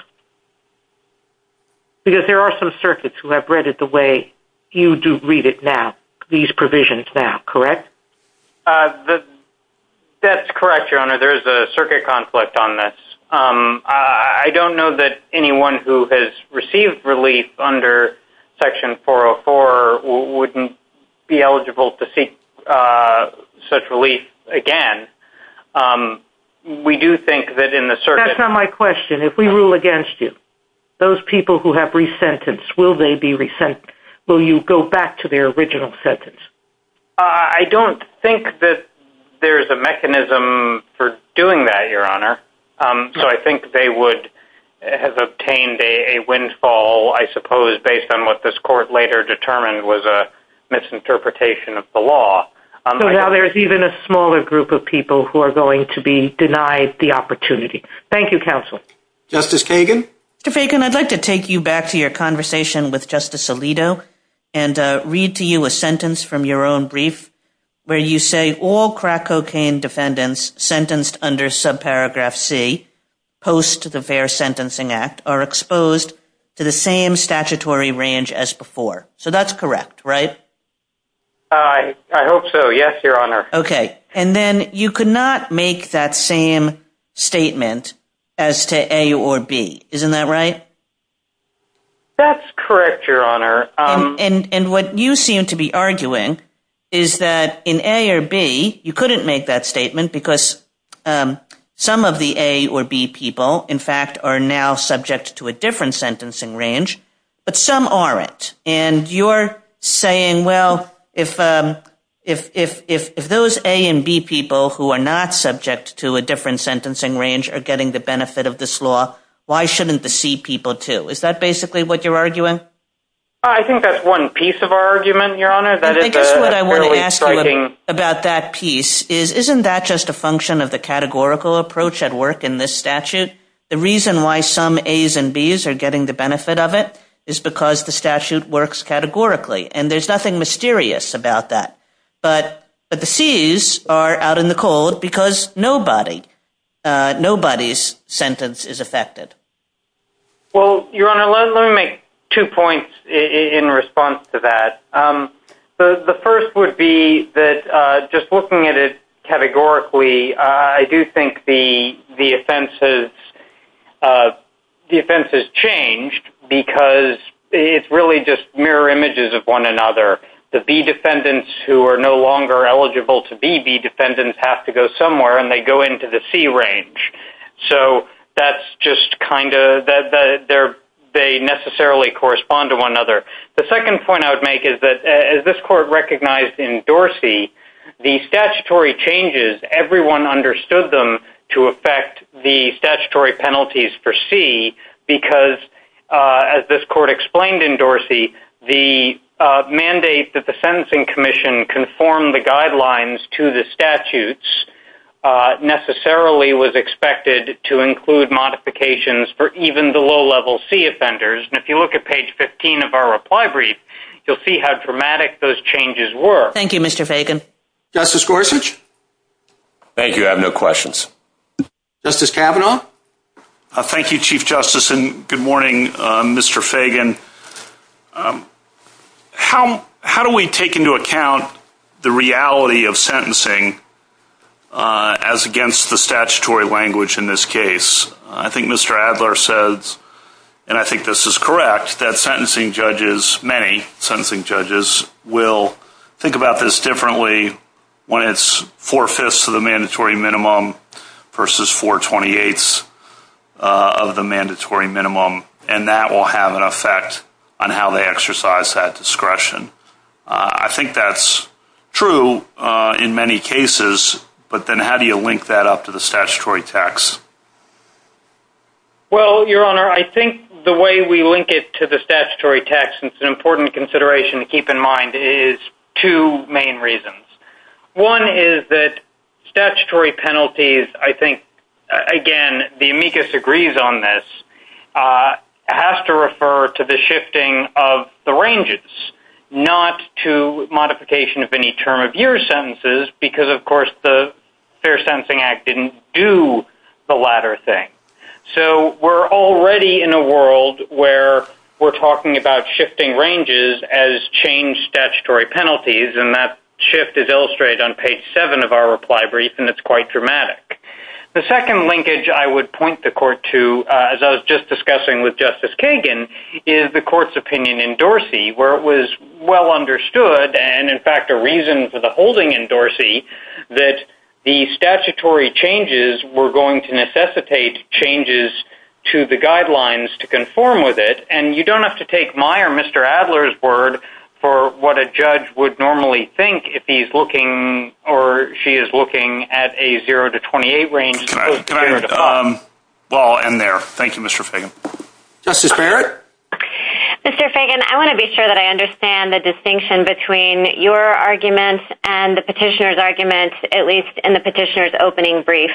Because there are some circuits who have read it the way you do read it now, these provisions now, correct? That's correct, Your Honor. There is a circuit conflict on this. I don't know that anyone who has received relief under Section 404 wouldn't be eligible to seek such relief again. We do think that in the circuit— That's not my question. If we rule against you, those people who have resentenced, will they be resentenced? Will you go back to their original sentence? I don't think that there is a mechanism for doing that, Your Honor. So I think they would have obtained a windfall, I suppose, based on what this court later determined was a misinterpretation of the law. So now there's even a smaller group of people who are going to be denied the opportunity. Thank you, Counsel. Justice Kagan? Mr. Fagan, I'd like to take you back to your conversation with Justice Alito and read to you a sentence from your own brief, where you say all crack cocaine defendants sentenced under subparagraph C, post the Fair Sentencing Act, are exposed to the same statutory range as before. So that's correct, right? I hope so, yes, Your Honor. Okay, and then you could not make that same statement as to A or B, isn't that right? That's correct, Your Honor. And what you seem to be arguing is that in A or B, you couldn't make that statement, because some of the A or B people, in fact, are now subject to a different sentencing range, but some aren't. And you're saying, well, if those A and B people who are not subject to a different sentencing range are getting the benefit of this law, why shouldn't the C people, too? Is that basically what you're arguing? I think that's one piece of our argument, Your Honor. I think what I want to ask about that piece is, isn't that just a function of the categorical approach at work in this statute? The reason why some A's and B's are getting the benefit of it is because the statute works categorically, and there's nothing mysterious about that. But the C's are out in the cold because nobody's sentence is affected. Well, Your Honor, let me make two points in response to that. The first would be that just looking at it categorically, I do think the offense has changed because it's really just mirror images of one another. The B defendants who are no longer eligible to be B defendants have to go somewhere, and they go into the C range. So that's just kind of they necessarily correspond to one another. The second point I would make is that, as this court recognized in Dorsey, the statutory changes, everyone understood them to affect the statutory penalties for C because, as this court explained in Dorsey, the mandate that the Sentencing Commission conform the guidelines to the statutes necessarily was expected to include modifications for even the low-level C offenders. And if you look at page 15 of our reply brief, you'll see how dramatic those changes were. Thank you, Mr. Fagan. Justice Gorsuch? Thank you. I have no questions. Justice Kavanaugh? Thank you, Chief Justice, and good morning, Mr. Fagan. How do we take into account the reality of sentencing as against the statutory language in this case? I think Mr. Adler said, and I think this is correct, that sentencing judges, many sentencing judges, will think about this differently when it's four-fifths of the mandatory minimum versus four-twenty-eighths of the mandatory minimum, and that will have an effect on how they exercise that discretion. I think that's true in many cases, but then how do you link that up to the statutory tax? Well, Your Honor, I think the way we link it to the statutory tax is an important consideration to keep in mind is two main reasons. One is that statutory penalties, I think, again, the amicus agrees on this, has to refer to the shifting of the ranges. Not to modification of any term of year sentences because, of course, the Fair Sentencing Act didn't do the latter thing. So we're already in a world where we're talking about shifting ranges as changed statutory penalties, and that shift is illustrated on page seven of our reply brief, and it's quite dramatic. The second linkage I would point the Court to, as I was just discussing with Justice Kagan, is the Court's opinion in Dorsey where it was well understood and, in fact, a reason for the holding in Dorsey that the statutory changes were going to necessitate changes to the guidelines to conform with it, and you don't have to take my or Mr. Adler's word for what a judge would normally think if he's looking or she is looking at a zero to twenty-eight range. Well, I'll end there. Thank you, Mr. Fagan. Justice Barrett? Mr. Fagan, I want to be sure that I understand the distinction between your argument and the petitioner's argument, at least in the petitioner's opening brief.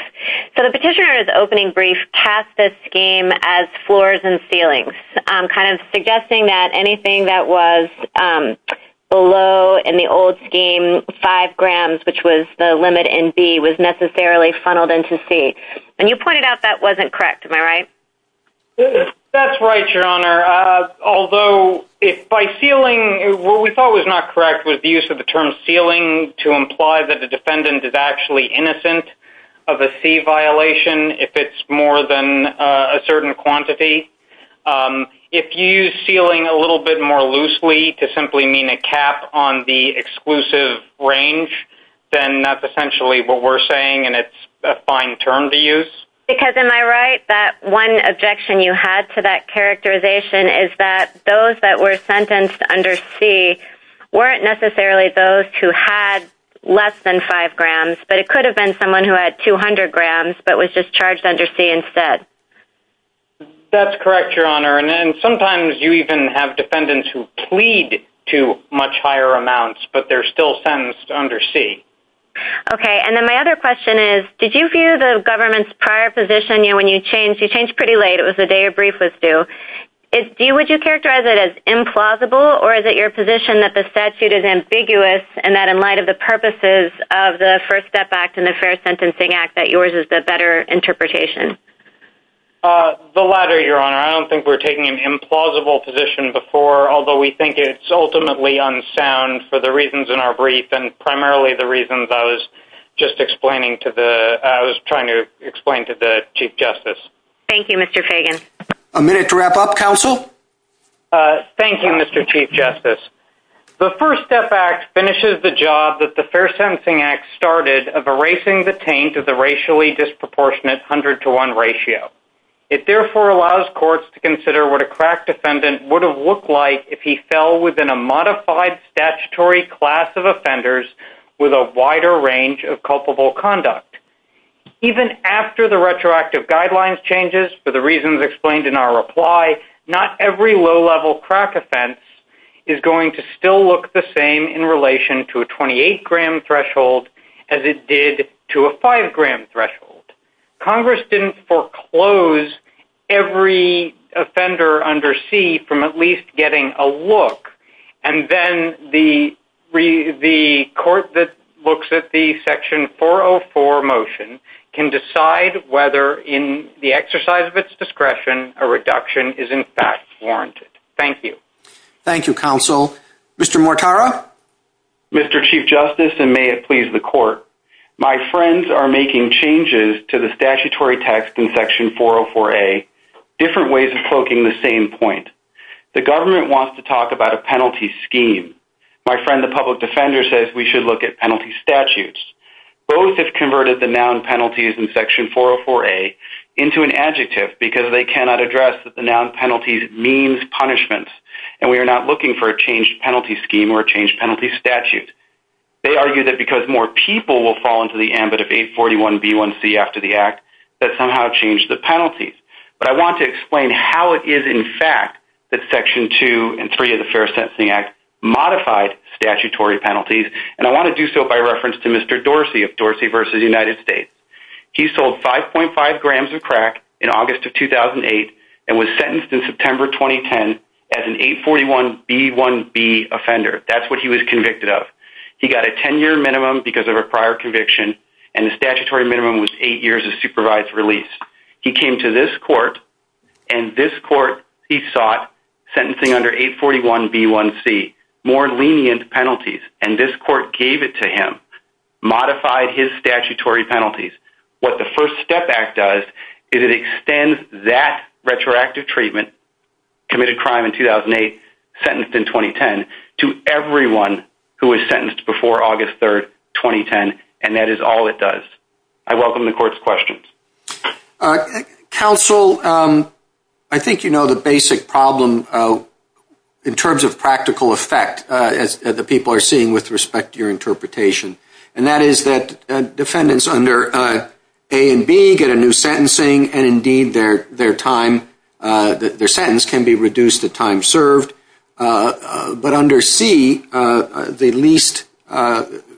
So the petitioner's opening brief cast this scheme as floors and ceilings, kind of suggesting that anything that was below, in the old scheme, five grams, which was the limit in B, was necessarily funneled into C, and you pointed out that wasn't correct. Am I right? That's right, Your Honor. Although by ceiling, what we thought was not correct was the use of the term ceiling to imply that the defendant is actually innocent of a C violation if it's more than a certain quantity. If you use ceiling a little bit more loosely to simply mean a cap on the exclusive range, then that's essentially what we're saying and it's a fine term to use. Because, am I right, that one objection you had to that characterization is that those that were sentenced under C weren't necessarily those who had less than five grams, but it could have been someone who had 200 grams, but was just charged under C instead. That's correct, Your Honor, and sometimes you even have defendants who plead to much higher amounts, but they're still sentenced under C. Okay, and then my other question is, did you view the government's prior position, when you changed, you changed pretty late, it was the day your brief was due, would you characterize it as implausible or is it your position that the statute is ambiguous and that in light of the purposes of the First Step Act and the Fair Sentencing Act that yours is the better interpretation? The latter, Your Honor. I don't think we're taking an implausible position before, although we think it's ultimately unsound for the reasons in our brief and primarily the reasons I was just explaining to the, I was trying to explain to the Chief Justice. Thank you, Mr. Fagan. A minute to wrap up, Counsel. Thank you, Mr. Chief Justice. The First Step Act finishes the job that the Fair Sentencing Act started of erasing the taint of the racially disproportionate hundred to one ratio. It therefore allows courts to consider what a cracked defendant would have looked like if he fell within a modified statutory class of offenders with a wider range of culpable conduct. Even after the retroactive guidelines changes, for the reasons explained in our reply, not every low-level crack offense is going to still look the same in relation to a 28-gram threshold as it did to a 5-gram threshold. Congress didn't foreclose every offender under C from at least getting a look, and then the court that looks at the Section 404 motion can decide whether in the exercise of its discretion a reduction is in fact warranted. Thank you. Thank you, Counsel. Mr. Mortara? Mr. Chief Justice, and may it please the Court, my friends are making changes to the statutory text in Section 404A, different ways of cloaking the same point. The government wants to talk about a penalty scheme. My friend, the public defender, says we should look at penalty statutes. Both have converted the noun penalties in Section 404A into an adjective, because they cannot address that the noun penalties means punishments, and we are not looking for a changed penalty scheme or a changed penalty statute. They argue that because more people will fall into the ambit of 841B1C after the act, that somehow changed the penalties. But I want to explain how it is in fact that Section 2 and 3 of the Fair Sentencing Act modified statutory penalties, and I want to do so by reference to Mr. Dorsey of Dorsey v. United States. He sold 5.5 grams of crack in August of 2008 and was sentenced in September 2010 as an 841B1B offender. That's what he was convicted of. He got a 10-year minimum because of a prior conviction, and the statutory minimum was eight years of supervised release. He came to this court, and this court he sought sentencing under 841B1C more lenient penalties, and this court gave it to him, modified his statutory penalties. What the FIRST STEP Act does is it extends that retroactive treatment, committed crime in 2008, sentenced in 2010, to everyone who was sentenced before August 3, 2010, and that is all it does. I welcome the court's questions. Counsel, I think you know the basic problem in terms of practical effect, as the people are seeing with respect to your interpretation, and that is that defendants under A and B get a new sentencing, and indeed their sentence can be reduced at time served. But under C, the least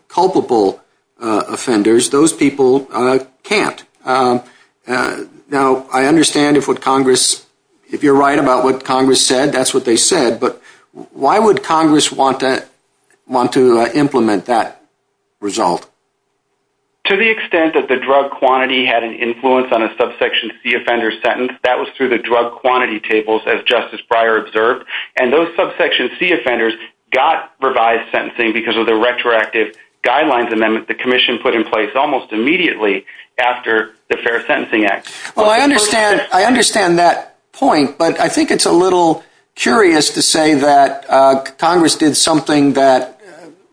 culpable offenders, those people can't. Now, I understand if you're right about what Congress said, that's what they said, but why would Congress want to implement that result? To the extent that the drug quantity had an influence on a subsection C offender's sentence, that was through the drug quantity tables, as Justice Breyer observed, and those subsection C offenders got revised sentencing because of the retroactive guidelines amendment the Commission put in place almost immediately after the Fair Sentencing Act. Well, I understand that point, but I think it's a little curious to say that Congress did something that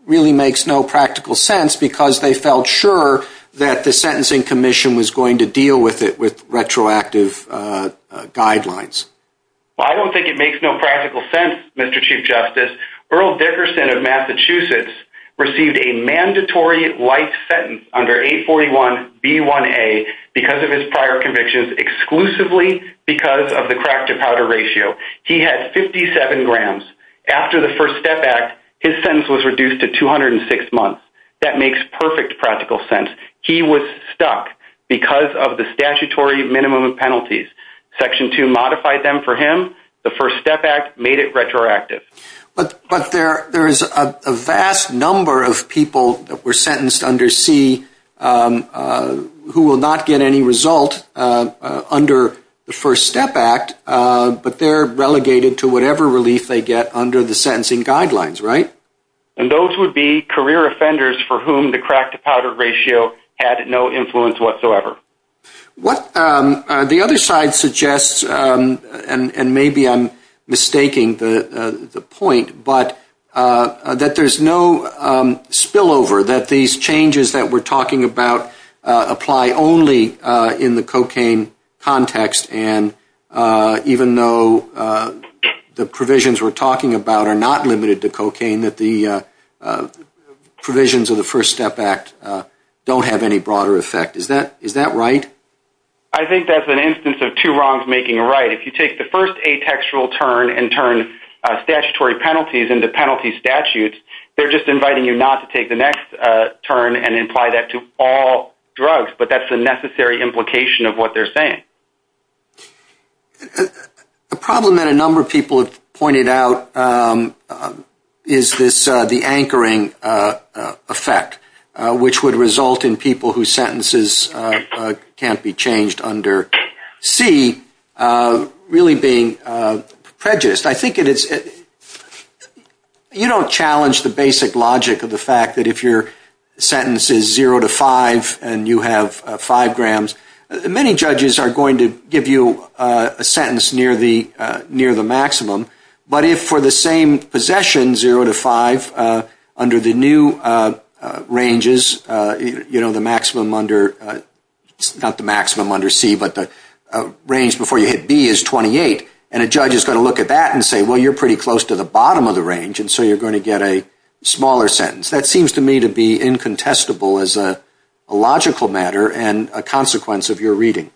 really makes no practical sense because they felt sure that the Sentencing Commission was going to deal with it with retroactive guidelines. Well, I don't think it makes no practical sense, Mr. Chief Justice. Earl Dickerson of Massachusetts received a mandatory life sentence under 841B1A because of his prior convictions exclusively because of the crack-to-powder ratio. He had 57 grams. After the First Step Act, his sentence was reduced to 206 months. That makes perfect practical sense. He was stuck because of the statutory minimum penalties. Section 2 modified them for him. The First Step Act made it retroactive. But there is a vast number of people that were sentenced under C who will not get any result under the First Step Act, but they're relegated to whatever relief they get under the sentencing guidelines, right? And those would be career offenders for whom the crack-to-powder ratio had no influence whatsoever. The other side suggests, and maybe I'm mistaking the point, but that there's no spillover, that these changes that we're talking about apply only in the cocaine context, and even though the provisions we're talking about are not limited to cocaine, that the provisions of the First Step Act don't have any broader effect. Is that right? I think that's an instance of two wrongs making a right. If you take the first atextual turn and turn statutory penalties into penalty statutes, they're just inviting you not to take the next turn and imply that to all drugs, but that's the necessary implication of what they're saying. The problem that a number of people have pointed out is the anchoring effect, which would result in people whose sentences can't be changed under C really being prejudiced. I think it is... You don't challenge the basic logic of the fact that if your sentence is zero to five and you have five grams, many judges are going to give you a sentence near the maximum, but if for the same possession, zero to five, under the new ranges, you know, the maximum under C, but the range before you hit B is 28, and a judge is going to look at that and say, well, you're pretty close to the bottom of the range, and so you're going to get a smaller sentence. That seems to me to be incontestable as a logical matter and a consequence of your reading.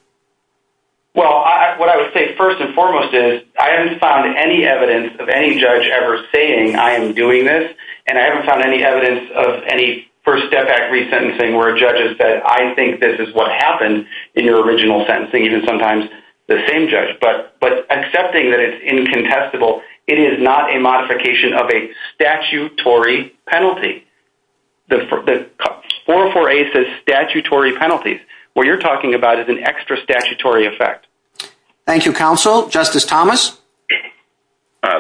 Well, what I would say first and foremost is I haven't found any evidence of any judge ever saying, I am doing this, and I haven't found any evidence of any first step act resentencing where a judge has said, I think this is what happened in your original sentencing, even sometimes the same judge, but accepting that it's incontestable, it is not a modification of a statutory penalty. 404A says statutory penalties. What you're talking about is an extra statutory effect. Thank you, counsel. Justice Thomas?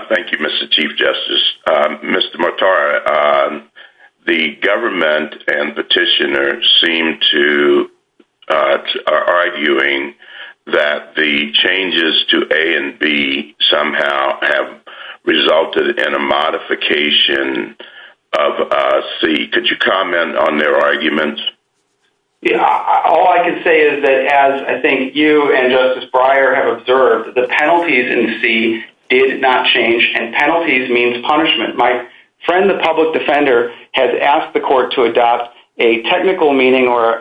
Thank you, Mr. Chief Justice. Mr. Mortara, the government and petitioners seem to be arguing that the changes to A and B somehow have resulted in a modification of C. Could you comment on their arguments? All I can say is that as I think you and Justice Breyer have observed, the penalties in C did not change, and penalties means punishment. My friend, the public defender, has asked the court to adopt a technical meaning or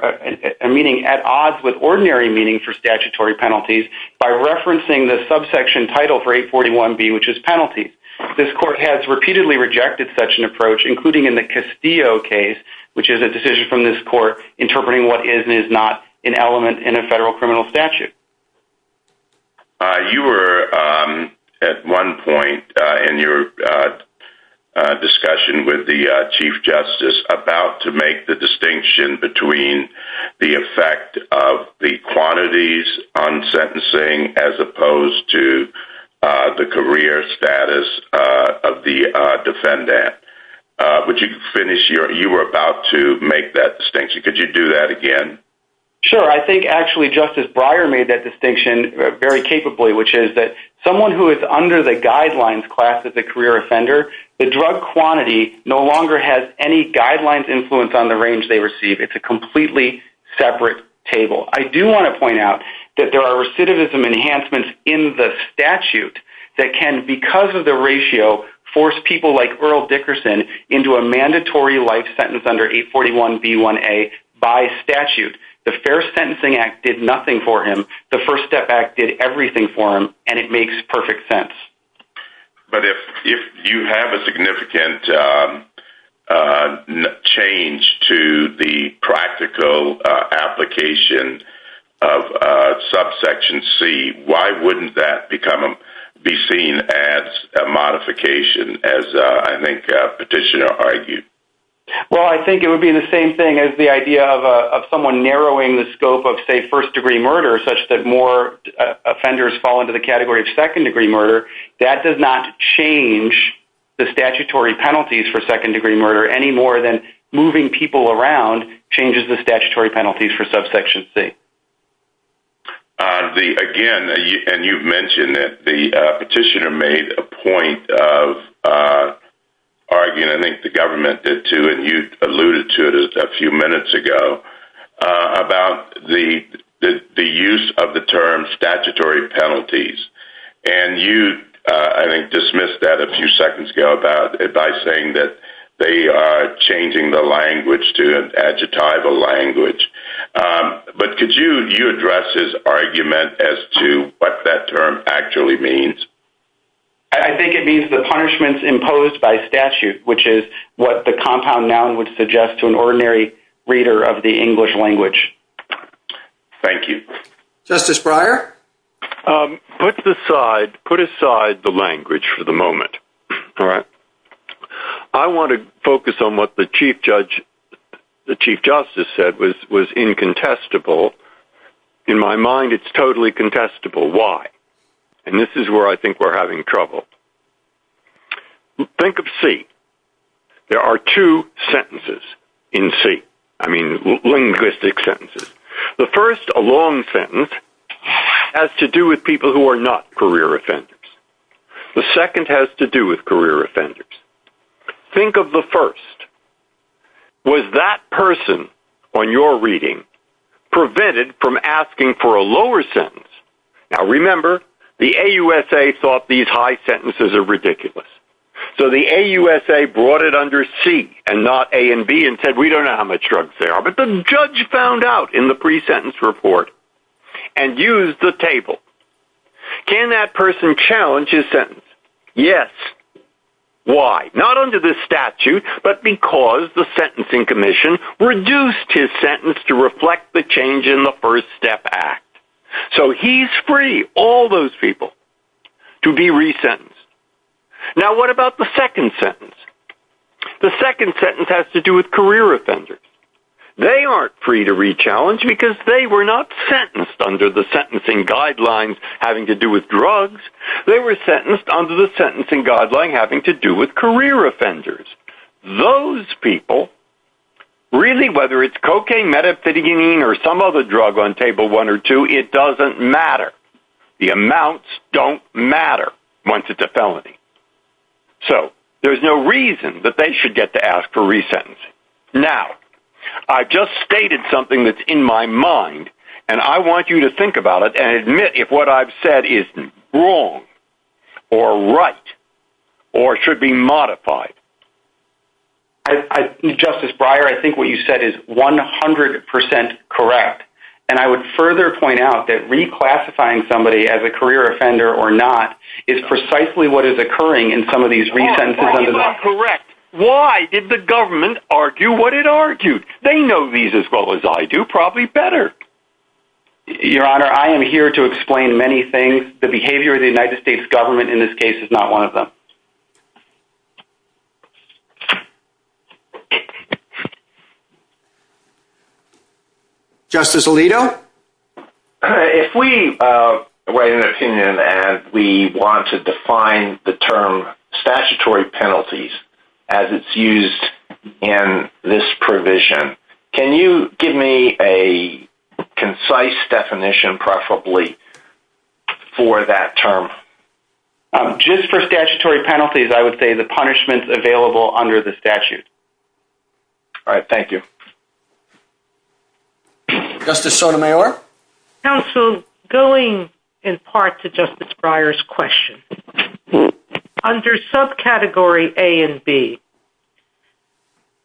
a meaning at odds with ordinary meaning for statutory penalties by referencing the subsection title for 841B, which is penalties. This court has repeatedly rejected such an approach, including in the Castillo case, which is a decision from this court interpreting what is and is not an element in a federal criminal statute. You were, at one point in your discussion with the Chief Justice, about to make the distinction between the effect of the quantities on sentencing as opposed to the career status of the defendant. Would you finish? You were about to make that distinction. Could you do that again? Sure. I think actually Justice Breyer made that distinction very capably, which is that someone who is under the guidelines class as a career offender, the drug quantity no longer has any guidelines influence on the range they receive. It's a completely separate table. I do want to point out that there are recidivism enhancements in the statute that can, because of the ratio, force people like Earl Dickerson into a mandatory life sentence under 841B1A by statute. The Fair Sentencing Act did nothing for him. The First Step Act did everything for him, and it makes perfect sense. But if you have a significant change to the practical application of subsection C, why wouldn't that be seen as a modification, as I think Petitioner argued? Well, I think it would be the same thing as the idea of someone narrowing the scope of, say, second-degree murder, that does not change the statutory penalties for second-degree murder any more than moving people around changes the statutory penalties for subsection C. Again, and you've mentioned that Petitioner made a point of arguing, I think the government did too, and you alluded to it a few minutes ago, about the use of the term statutory penalties. And you, I think, dismissed that a few seconds ago by saying that they are changing the language to an adjectival language. But could you address his argument as to what that term actually means? I think it means the punishments imposed by statute, which is what the compound noun would suggest to an ordinary reader of the English language. Thank you. Justice Breyer? Put aside the language for the moment. I want to focus on what the Chief Justice said was incontestable. In my mind, it's totally contestable. Why? And this is where I think we're having trouble. Think of C. There are two sentences in C. I mean, linguistic sentences. The first, a long sentence, has to do with people who are not career offenders. The second has to do with career offenders. Think of the first. Was that person on your reading prevented from asking for a lower sentence? Now, remember, the AUSA thought these high sentences are ridiculous. So the AUSA brought it under C and not A and B and said, we don't know how much drugs there are. But the judge found out in the pre-sentence report and used the table. Can that person challenge his sentence? Yes. Why? Not under the statute, but because the Sentencing Commission reduced his sentence to reflect the change in the First Step Act. So he's free, all those people, to be re-sentenced. Now, what about the second sentence? The second sentence has to do with career offenders. They aren't free to re-challenge because they were not sentenced under the sentencing guidelines having to do with drugs. They were sentenced under the sentencing guideline having to do with career offenders. Those people, really, whether it's cocaine, methamphetamine, or some other drug on Table 1 or 2, it doesn't matter. The amounts don't matter once it's a felony. So there's no reason that they should get to ask for re-sentencing. Now, I just stated something that's in my mind, and I want you to think about it and admit if what I've said is wrong or right or should be modified. Justice Breyer, I think what you said is 100% correct, and I would further point out that reclassifying somebody as a career offender or not is precisely what is occurring in some of these re-sentences. Why is that correct? Why did the government argue what it argued? They know these as well as I do, probably better. Your Honor, I am here to explain many things. The behavior of the United States government in this case is not one of them. Justice Alito? If we write an opinion and we want to define the term statutory penalties as it's used in this provision, can you give me a concise definition, preferably, for that term? Just for statutory penalties, I would say the punishment is available under the statute. All right. Thank you. Justice Sotomayor? Counsel, going in part to Justice Breyer's question, under subcategory A and B,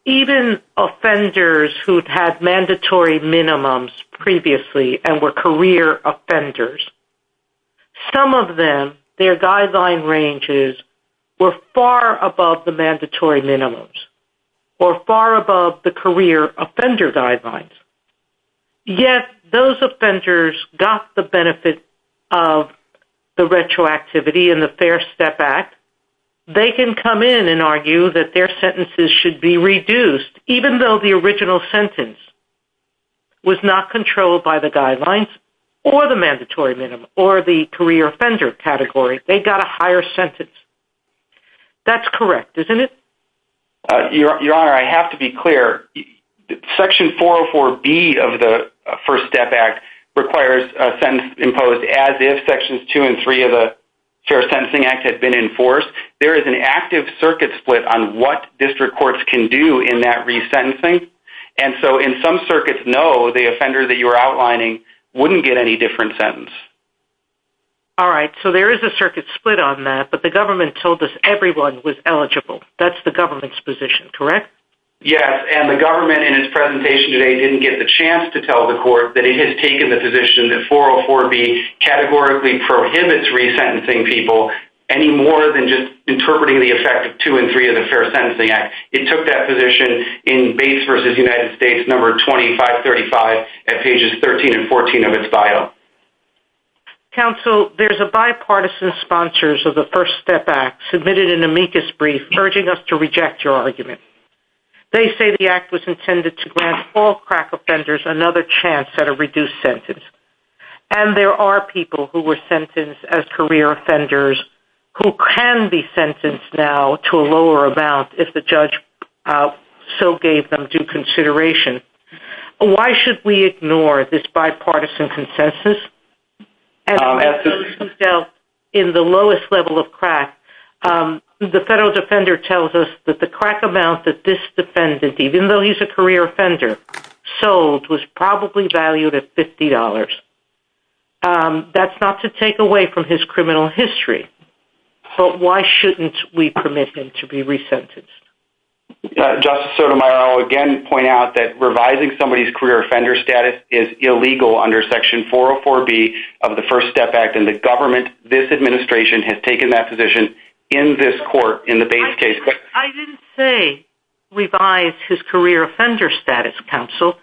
even offenders who had mandatory minimums previously and were career offenders, some of them, their guideline ranges were far above the mandatory minimums or far above the career offender guidelines. Yet, those offenders got the benefit of the retroactivity in the Fair Step Act. They can come in and argue that their sentences should be reduced, even though the original sentence was not controlled by the guidelines or the mandatory minimum or the career offender category. They got a higher sentence. That's correct, isn't it? Your Honor, I have to be clear. Section 404B of the First Step Act requires a sentence imposed as if Sections 2 and 3 of the Fair Sentencing Act had been enforced. There is an active circuit split on what district courts can do in that resentencing. In some circuits, no, the offender that you're outlining wouldn't get any different sentence. All right. There is a circuit split on that, but the government told us everyone was eligible. That's the government's position, correct? Yes. The government, in its presentation today, didn't get the chance to tell the court that it had taken the position that 404B categorically prohibits resentencing people any more than just interpreting the effect of 2 and 3 of the Fair Sentencing Act. It took that position in Base v. United States, number 2535, at pages 13 and 14 of its file. Counsel, there's a bipartisan sponsors of the First Step Act submitted an amicus brief urging us to reject your argument. They say the act was intended to grant all crack offenders another chance at a reduced sentence, and there are people who were sentenced as career offenders who can be sentenced now to a lower amount if the judge so gave them due consideration. Why should we ignore this bipartisan consensus? In the lowest level of crack, the federal defender tells us that the crack amount that this defendant, even though he's a career offender, sold was probably valued at $50. That's not to take away from his criminal history, but why shouldn't we permit him to be resentenced? Justice Sotomayor, I'll again point out that revising somebody's career offender status is illegal under Section 404B of the First Step Act, and the government, this administration, has taken that position in this court in the Base case. I didn't say revise his career offender status, Counsel.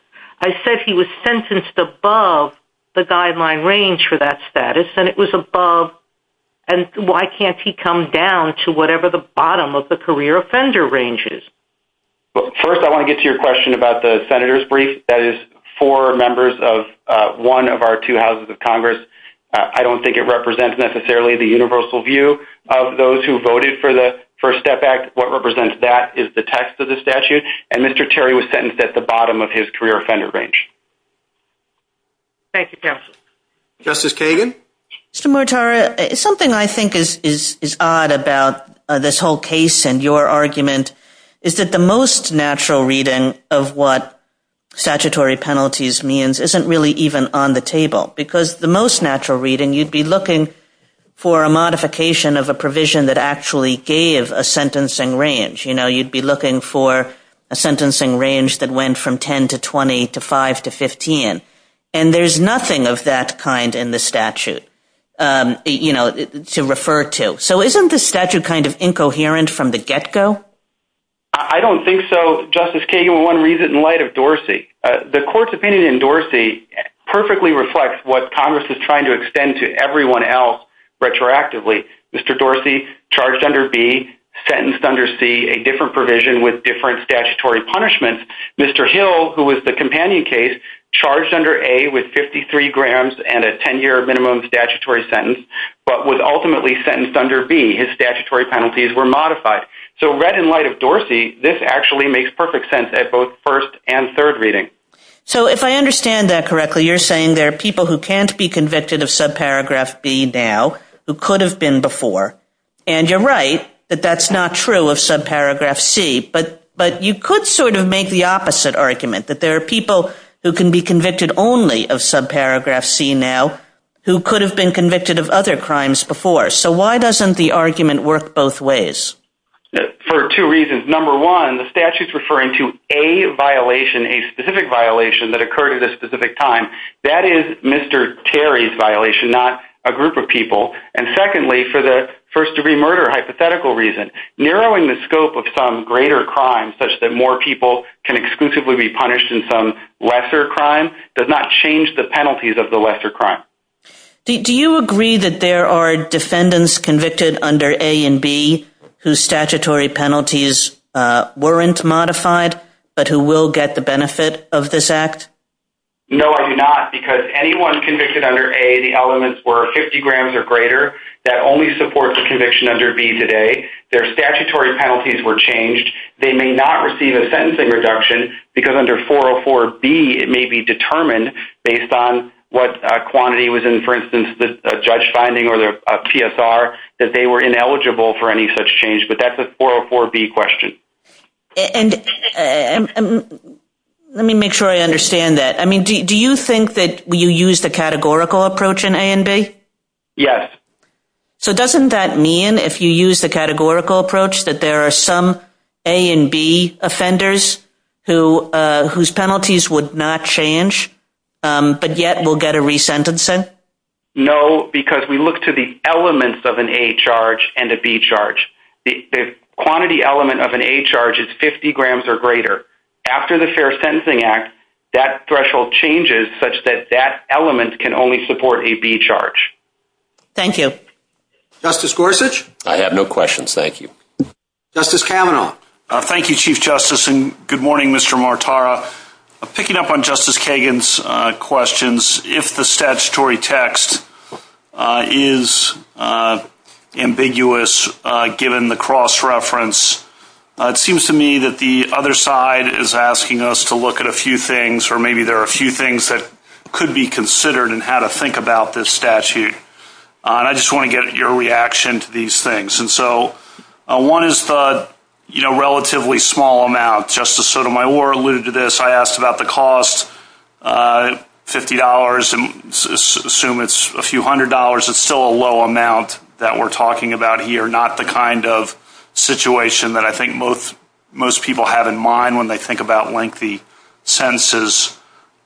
I said he was sentenced above the guideline range for that status, and it was above, and why can't he come down to whatever the bottom of the career offender range is? First, I want to get to your question about the Senator's brief. That is for members of one of our two houses of Congress. I don't think it represents necessarily the universal view of those who voted for the First Step Act. What represents that is the text of the statute, and Mr. Terry was sentenced at the bottom of his career offender range. Thank you, Counsel. Justice Kagan? Mr. Murtara, something I think is odd about this whole case and your argument is that the most natural reading of what statutory penalties means isn't really even on the table, because the most natural reading, you'd be looking for a modification of a provision that actually gave a sentencing range. You'd be looking for a sentencing range that went from 10 to 20 to 5 to 15, and there's nothing of that kind in the statute to refer to. So isn't the statute kind of incoherent from the get-go? I don't think so. Justice Kagan, one reason in light of Dorsey. The court's opinion in Dorsey perfectly reflects what Congress is trying to extend to everyone else retroactively. Mr. Dorsey, charged under B, sentenced under C, a different provision with different statutory punishments. Mr. Hill, who was the companion case, charged under A with 53 grams and a 10-year minimum statutory sentence, but was ultimately sentenced under B. His statutory penalties were modified. So read in light of Dorsey, this actually makes perfect sense at both first and third reading. So if I understand that correctly, you're saying there are people who can't be convicted of subparagraph B now who could have been before, and you're right that that's not true of subparagraph C, but you could sort of make the opposite argument, that there are people who can be convicted only of subparagraph C now who could have been convicted of other crimes before. So why doesn't the argument work both ways? For two reasons. Number one, the statute's referring to a violation, a specific violation that occurred at a specific time. That is Mr. Terry's violation, not a group of people. And secondly, for the first-degree murder hypothetical reason, narrowing the scope of some greater crime such that more people can exclusively be punished in some lesser crime does not change the penalties of the lesser crime. Do you agree that there are defendants convicted under A and B whose statutory penalties weren't modified, but who will get the benefit of this act? No, I do not, because anyone convicted under A, the elements were 50 grams or greater, that only supports the conviction under B today. Their statutory penalties were changed. They may not receive a sentencing reduction because under 404B it may be determined, based on what quantity was in, for instance, the judge finding or the PSR, that they were ineligible for any such change, but that's a 404B question. And let me make sure I understand that. I mean, do you think that you use the categorical approach in A and B? Yes. So doesn't that mean if you use the categorical approach that there are some A and B offenders whose penalties would not change, but yet will get a re-sentencing? No, because we look to the elements of an A charge and a B charge. The quantity element of an A charge is 50 grams or greater. After the Fair Sentencing Act, that threshold changes such that that element can only support a B charge. Thank you. Justice Gorsuch? I have no questions. Thank you. Justice Kavanaugh? Thank you, Chief Justice, and good morning, Mr. Martara. Picking up on Justice Kagan's questions, if the statutory text is ambiguous given the cross-reference, it seems to me that the other side is asking us to look at a few things, or maybe there are a few things that could be considered in how to think about this statute. I just want to get your reaction to these things. One is the relatively small amount. Justice Sotomayor alluded to this. I asked about the cost, $50, and assume it's a few hundred dollars. It's still a low amount that we're talking about here, not the kind of situation that I think most people have in mind when they think about lengthy sentences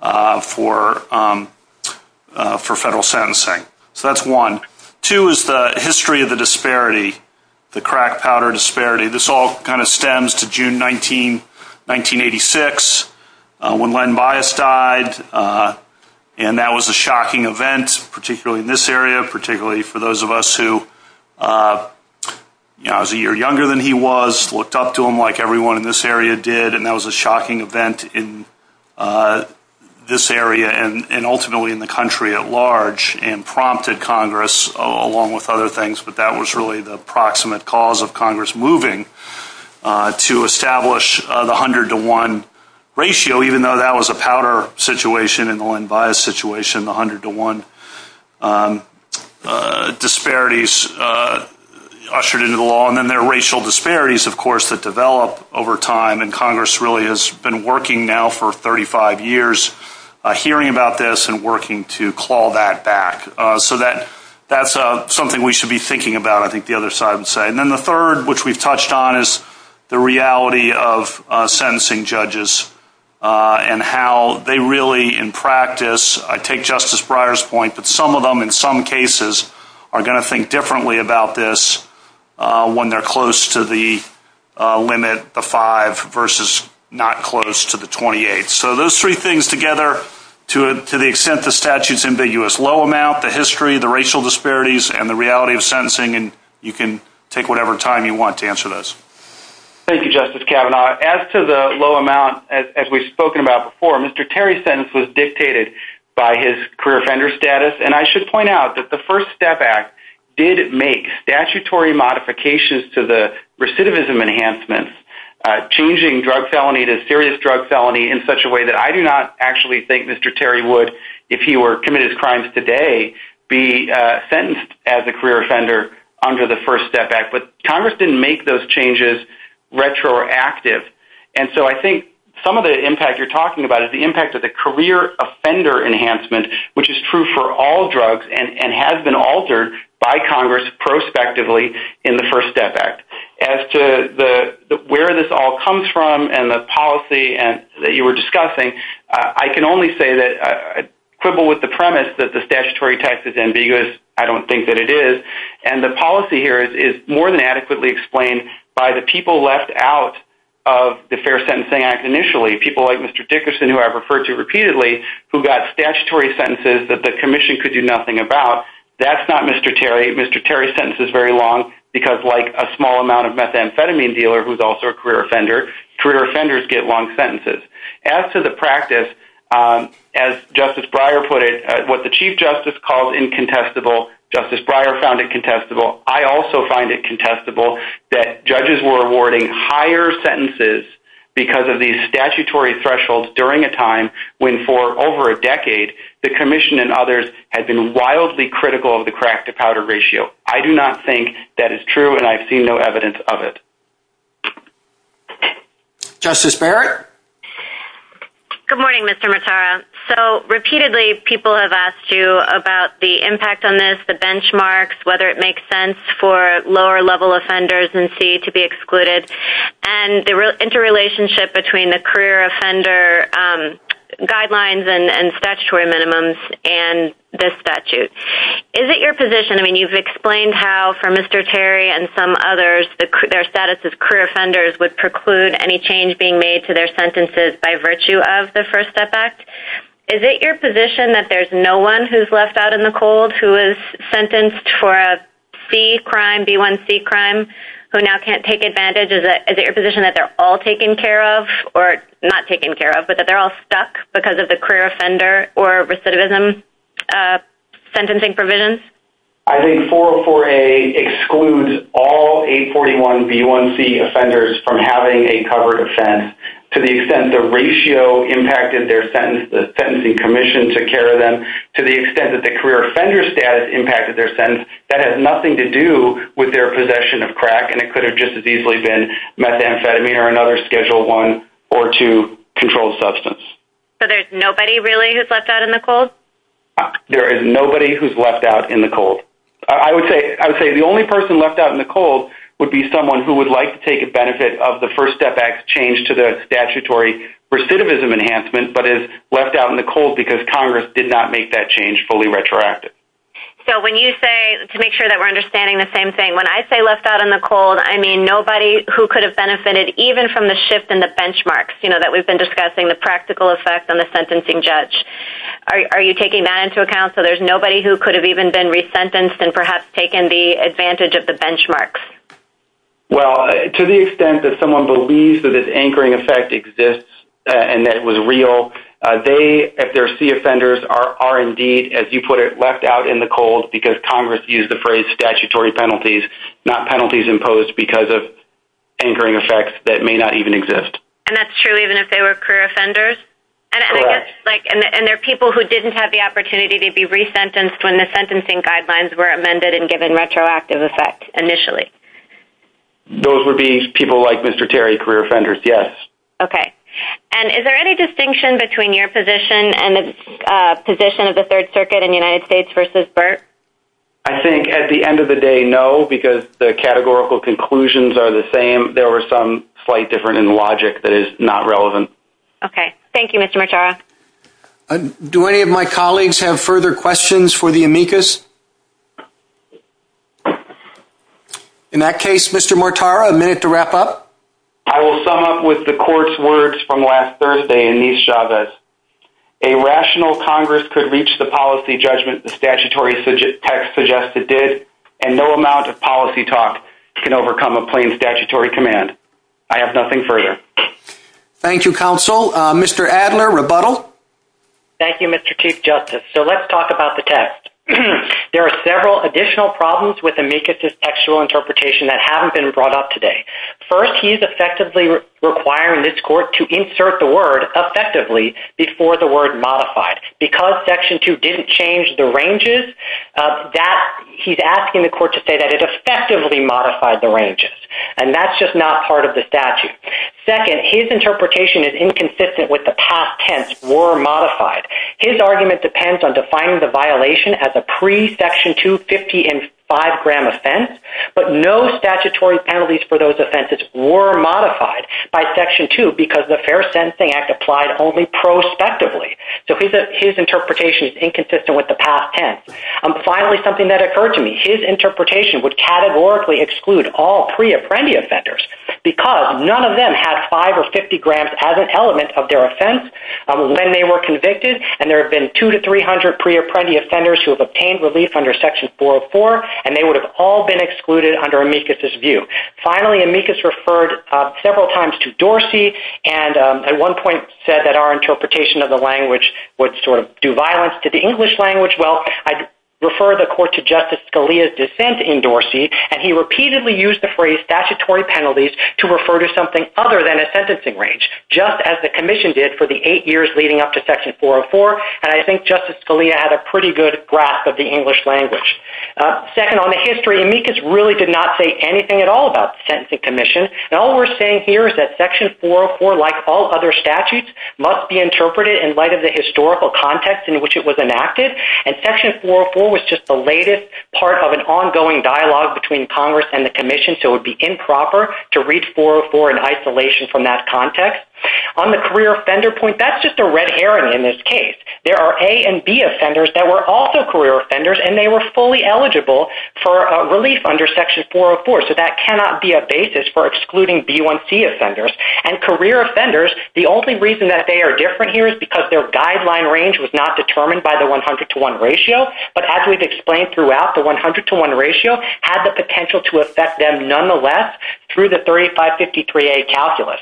for federal sentencing. So that's one. Two is the history of the disparity, the crack powder disparity. This all kind of stems to June 1986 when Len Bias died, and that was a shocking event, particularly in this area, particularly for those of us who was a year younger than he was, looked up to him like everyone in this area did, and that was a shocking event in this area and ultimately in the country at large and prompted Congress, along with other things, but that was really the proximate cause of Congress moving to establish the 100-to-1 ratio, even though that was a powder situation in the Len Bias situation, the 100-to-1 disparities ushered into the law. And then there are racial disparities, of course, that develop over time, and Congress really has been working now for 35 years hearing about this and working to claw that back. So that's something we should be thinking about, I think, the other side would say. And then the third, which we've touched on, is the reality of sentencing judges and how they really, in practice, I take Justice Breyer's point that some of them, in some cases, are going to think differently about this when they're close to the limit, the 5, versus not close to the 28. So those three things together, to the extent the statute's ambiguous, low amount, the history, the racial disparities, and the reality of sentencing, and you can take whatever time you want to answer those. Thank you, Justice Kavanaugh. As to the low amount, as we've spoken about before, Mr. Terry's sentence was dictated by his career offender status, and I should point out that the First Step Act did make statutory modifications to the recidivism enhancements, changing drug felony to serious drug felony in such a way that I do not actually think Mr. Terry would, if he were to commit his crimes today, be sentenced as a career offender under the First Step Act, but Congress didn't make those changes retroactive. And so I think some of the impact you're talking about is the impact of the career offender enhancement, which is true for all drugs and has been altered by Congress prospectively in the First Step Act. As to where this all comes from and the policy that you were discussing, I can only say that I quibble with the premise that the statutory text is ambiguous. I don't think that it is. And the policy here is more than adequately explained by the people left out of the Fair Sentencing Act initially, people like Mr. Dickerson, who I've referred to repeatedly, who got statutory sentences that the commission could do nothing about. That's not Mr. Terry. Mr. Terry's sentence is very long because, like a small amount of methamphetamine dealer who's also a career offender, career offenders get long sentences. As to the practice, as Justice Breyer put it, what the Chief Justice called incontestable, Justice Breyer found incontestable. I also find incontestable that judges were awarding higher sentences because of these statutory thresholds during a time when for over a decade the commission and others had been wildly critical of the crack-to-powder ratio. I do not think that is true, and I've seen no evidence of it. Justice Barrett? Good morning, Mr. Matara. So repeatedly people have asked you about the impact on this, the benchmarks, whether it makes sense for lower-level offenders in C to be excluded, and the interrelationship between the career offender guidelines and statutory minimums and this statute. Is it your position, I mean, you've explained how, for Mr. Terry and some others, their status as career offenders would preclude any change being made to their sentences by virtue of the First Step Act. Is it your position that there's no one who's left out in the cold who is sentenced for a C crime, B1C crime, who now can't take advantage? Is it your position that they're all taken care of, or not taken care of, but that they're all stuck because of the career offender or recidivism sentencing provisions? I think 404A excludes all 841B1C offenders from having a covered offense to the extent the ratio impacted their sentence, the sentencing commission took care of them, to the extent that the career offender status impacted their sentence. That has nothing to do with their possession of crack, and it could have just as easily been methamphetamine or another Schedule I or II controlled substance. So there's nobody, really, who's left out in the cold? There is nobody who's left out in the cold. I would say the only person left out in the cold would be someone who would like to take advantage of the First Step Act's change to the statutory recidivism enhancement, but is left out in the cold because Congress did not make that change fully retroactive. So when you say, to make sure that we're understanding the same thing, when I say left out in the cold, I mean nobody who could have benefited even from the shift in the benchmarks that we've been discussing, the practical effects on the sentencing judge. Are you taking that into account so there's nobody who could have even been resentenced and perhaps taken the advantage of the benchmarks? Well, to the extent that someone believes that this anchoring effect exists and that it was real, they, if they're C offenders, are indeed, as you put it, left out in the cold because Congress used the phrase statutory penalties, not penalties imposed because of anchoring effects that may not even exist. And that's true even if they were career offenders? Correct. And there are people who didn't have the opportunity to be resentenced when the sentencing guidelines were amended and given retroactive effect initially? Those would be people like Mr. Terry, career offenders, yes. Okay. And is there any distinction between your position and the position of the Third Circuit in the United States versus Burt? I think at the end of the day, no, because the categorical conclusions are the same. There was some slight difference in logic that is not relevant. Okay. Thank you, Mr. Martara. Do any of my colleagues have further questions for the amicus? In that case, Mr. Martara, a minute to wrap up? I will sum up with the court's words from last Thursday in these javas. A rational Congress could reach the policy judgment the statutory text suggested did, and no amount of policy talk can overcome a plain statutory command. I have nothing further. Thank you, counsel. Mr. Adler, rebuttal? Thank you, Mr. Chief Justice. So let's talk about the text. There are several additional problems with amicus's textual interpretation that haven't been brought up today. First, he's effectively requiring this court to insert the word effectively before the word modified. Because Section 2 didn't change the ranges, he's asking the court to say that it effectively modified the ranges, and that's just not part of the statute. Second, his interpretation is inconsistent with the past tense, were modified. His argument depends on defining the violation as a pre-Section 2, 50, and 5-gram offense, but no statutory penalties for those offenses were modified by Section 2 because the Fair Sensing Act applied only prospectively. So his interpretation is inconsistent with the past tense. Finally, something that occurred to me. His interpretation would categorically exclude all pre-apprendia offenders because none of them have 5 or 50 grams as an element of their offense when they were convicted, and there have been 200 to 300 pre-apprendia offenders who have obtained relief under Section 404, and they would have all been excluded under amicus's view. Finally, amicus referred several times to Dorsey, and at one point said that our interpretation of the language would sort of do violence to the English language. Well, I refer the Court to Justice Scalia's dissent in Dorsey, and he repeatedly used the phrase statutory penalties to refer to something other than a sentencing range, just as the Commission did for the eight years leading up to Section 404, and I think Justice Scalia had a pretty good grasp of the English language. Second, on the history, amicus really did not say anything at all about the Sentencing Commission, and all we're saying here is that Section 404, like all other statutes, must be interpreted in light of the historical context in which it was enacted, and Section 404 was just the latest part of an ongoing dialogue between Congress and the Commission, so it would be improper to read 404 in isolation from that context. On the career offender point, that's just a red herring in this case. There are A and B offenders that were also career offenders, and they were fully eligible for relief under Section 404, so that cannot be a basis for excluding B1C offenders. And career offenders, the only reason that they are different here is because their guideline range was not determined by the 100-to-1 ratio, but as we've explained throughout, the 100-to-1 ratio had the potential to affect them nonetheless through the 3553A calculus.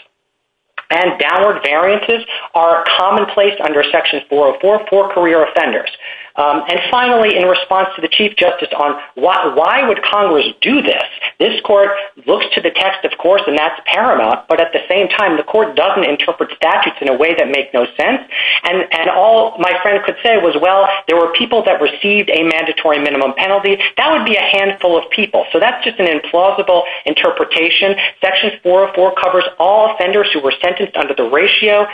And downward variances are commonplace under Section 404 for career offenders. And finally, in response to the Chief Justice on why would Congress do this, this Court looks to the text, of course, and that's paramount, but at the same time the Court doesn't interpret statutes in a way that makes no sense, and all my friend could say was, well, there were people that received a mandatory minimum penalty. That would be a handful of people, so that's just an implausible interpretation. Section 404 covers all offenders who were sentenced under the ratio.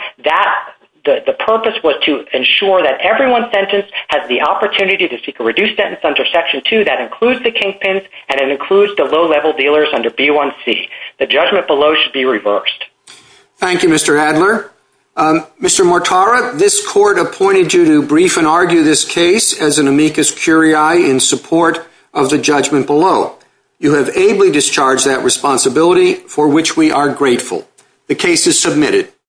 The purpose was to ensure that everyone sentenced had the opportunity to seek a reduced sentence under Section 2. That includes the kinkpins, and it includes the low-level dealers under B1C. The judgment below should be reversed. Thank you, Mr. Adler. Mr. Mortara, this Court appointed you to brief and argue this case as an amicus curiae in support of the judgment below. You have ably discharged that responsibility, for which we are grateful. The case is submitted.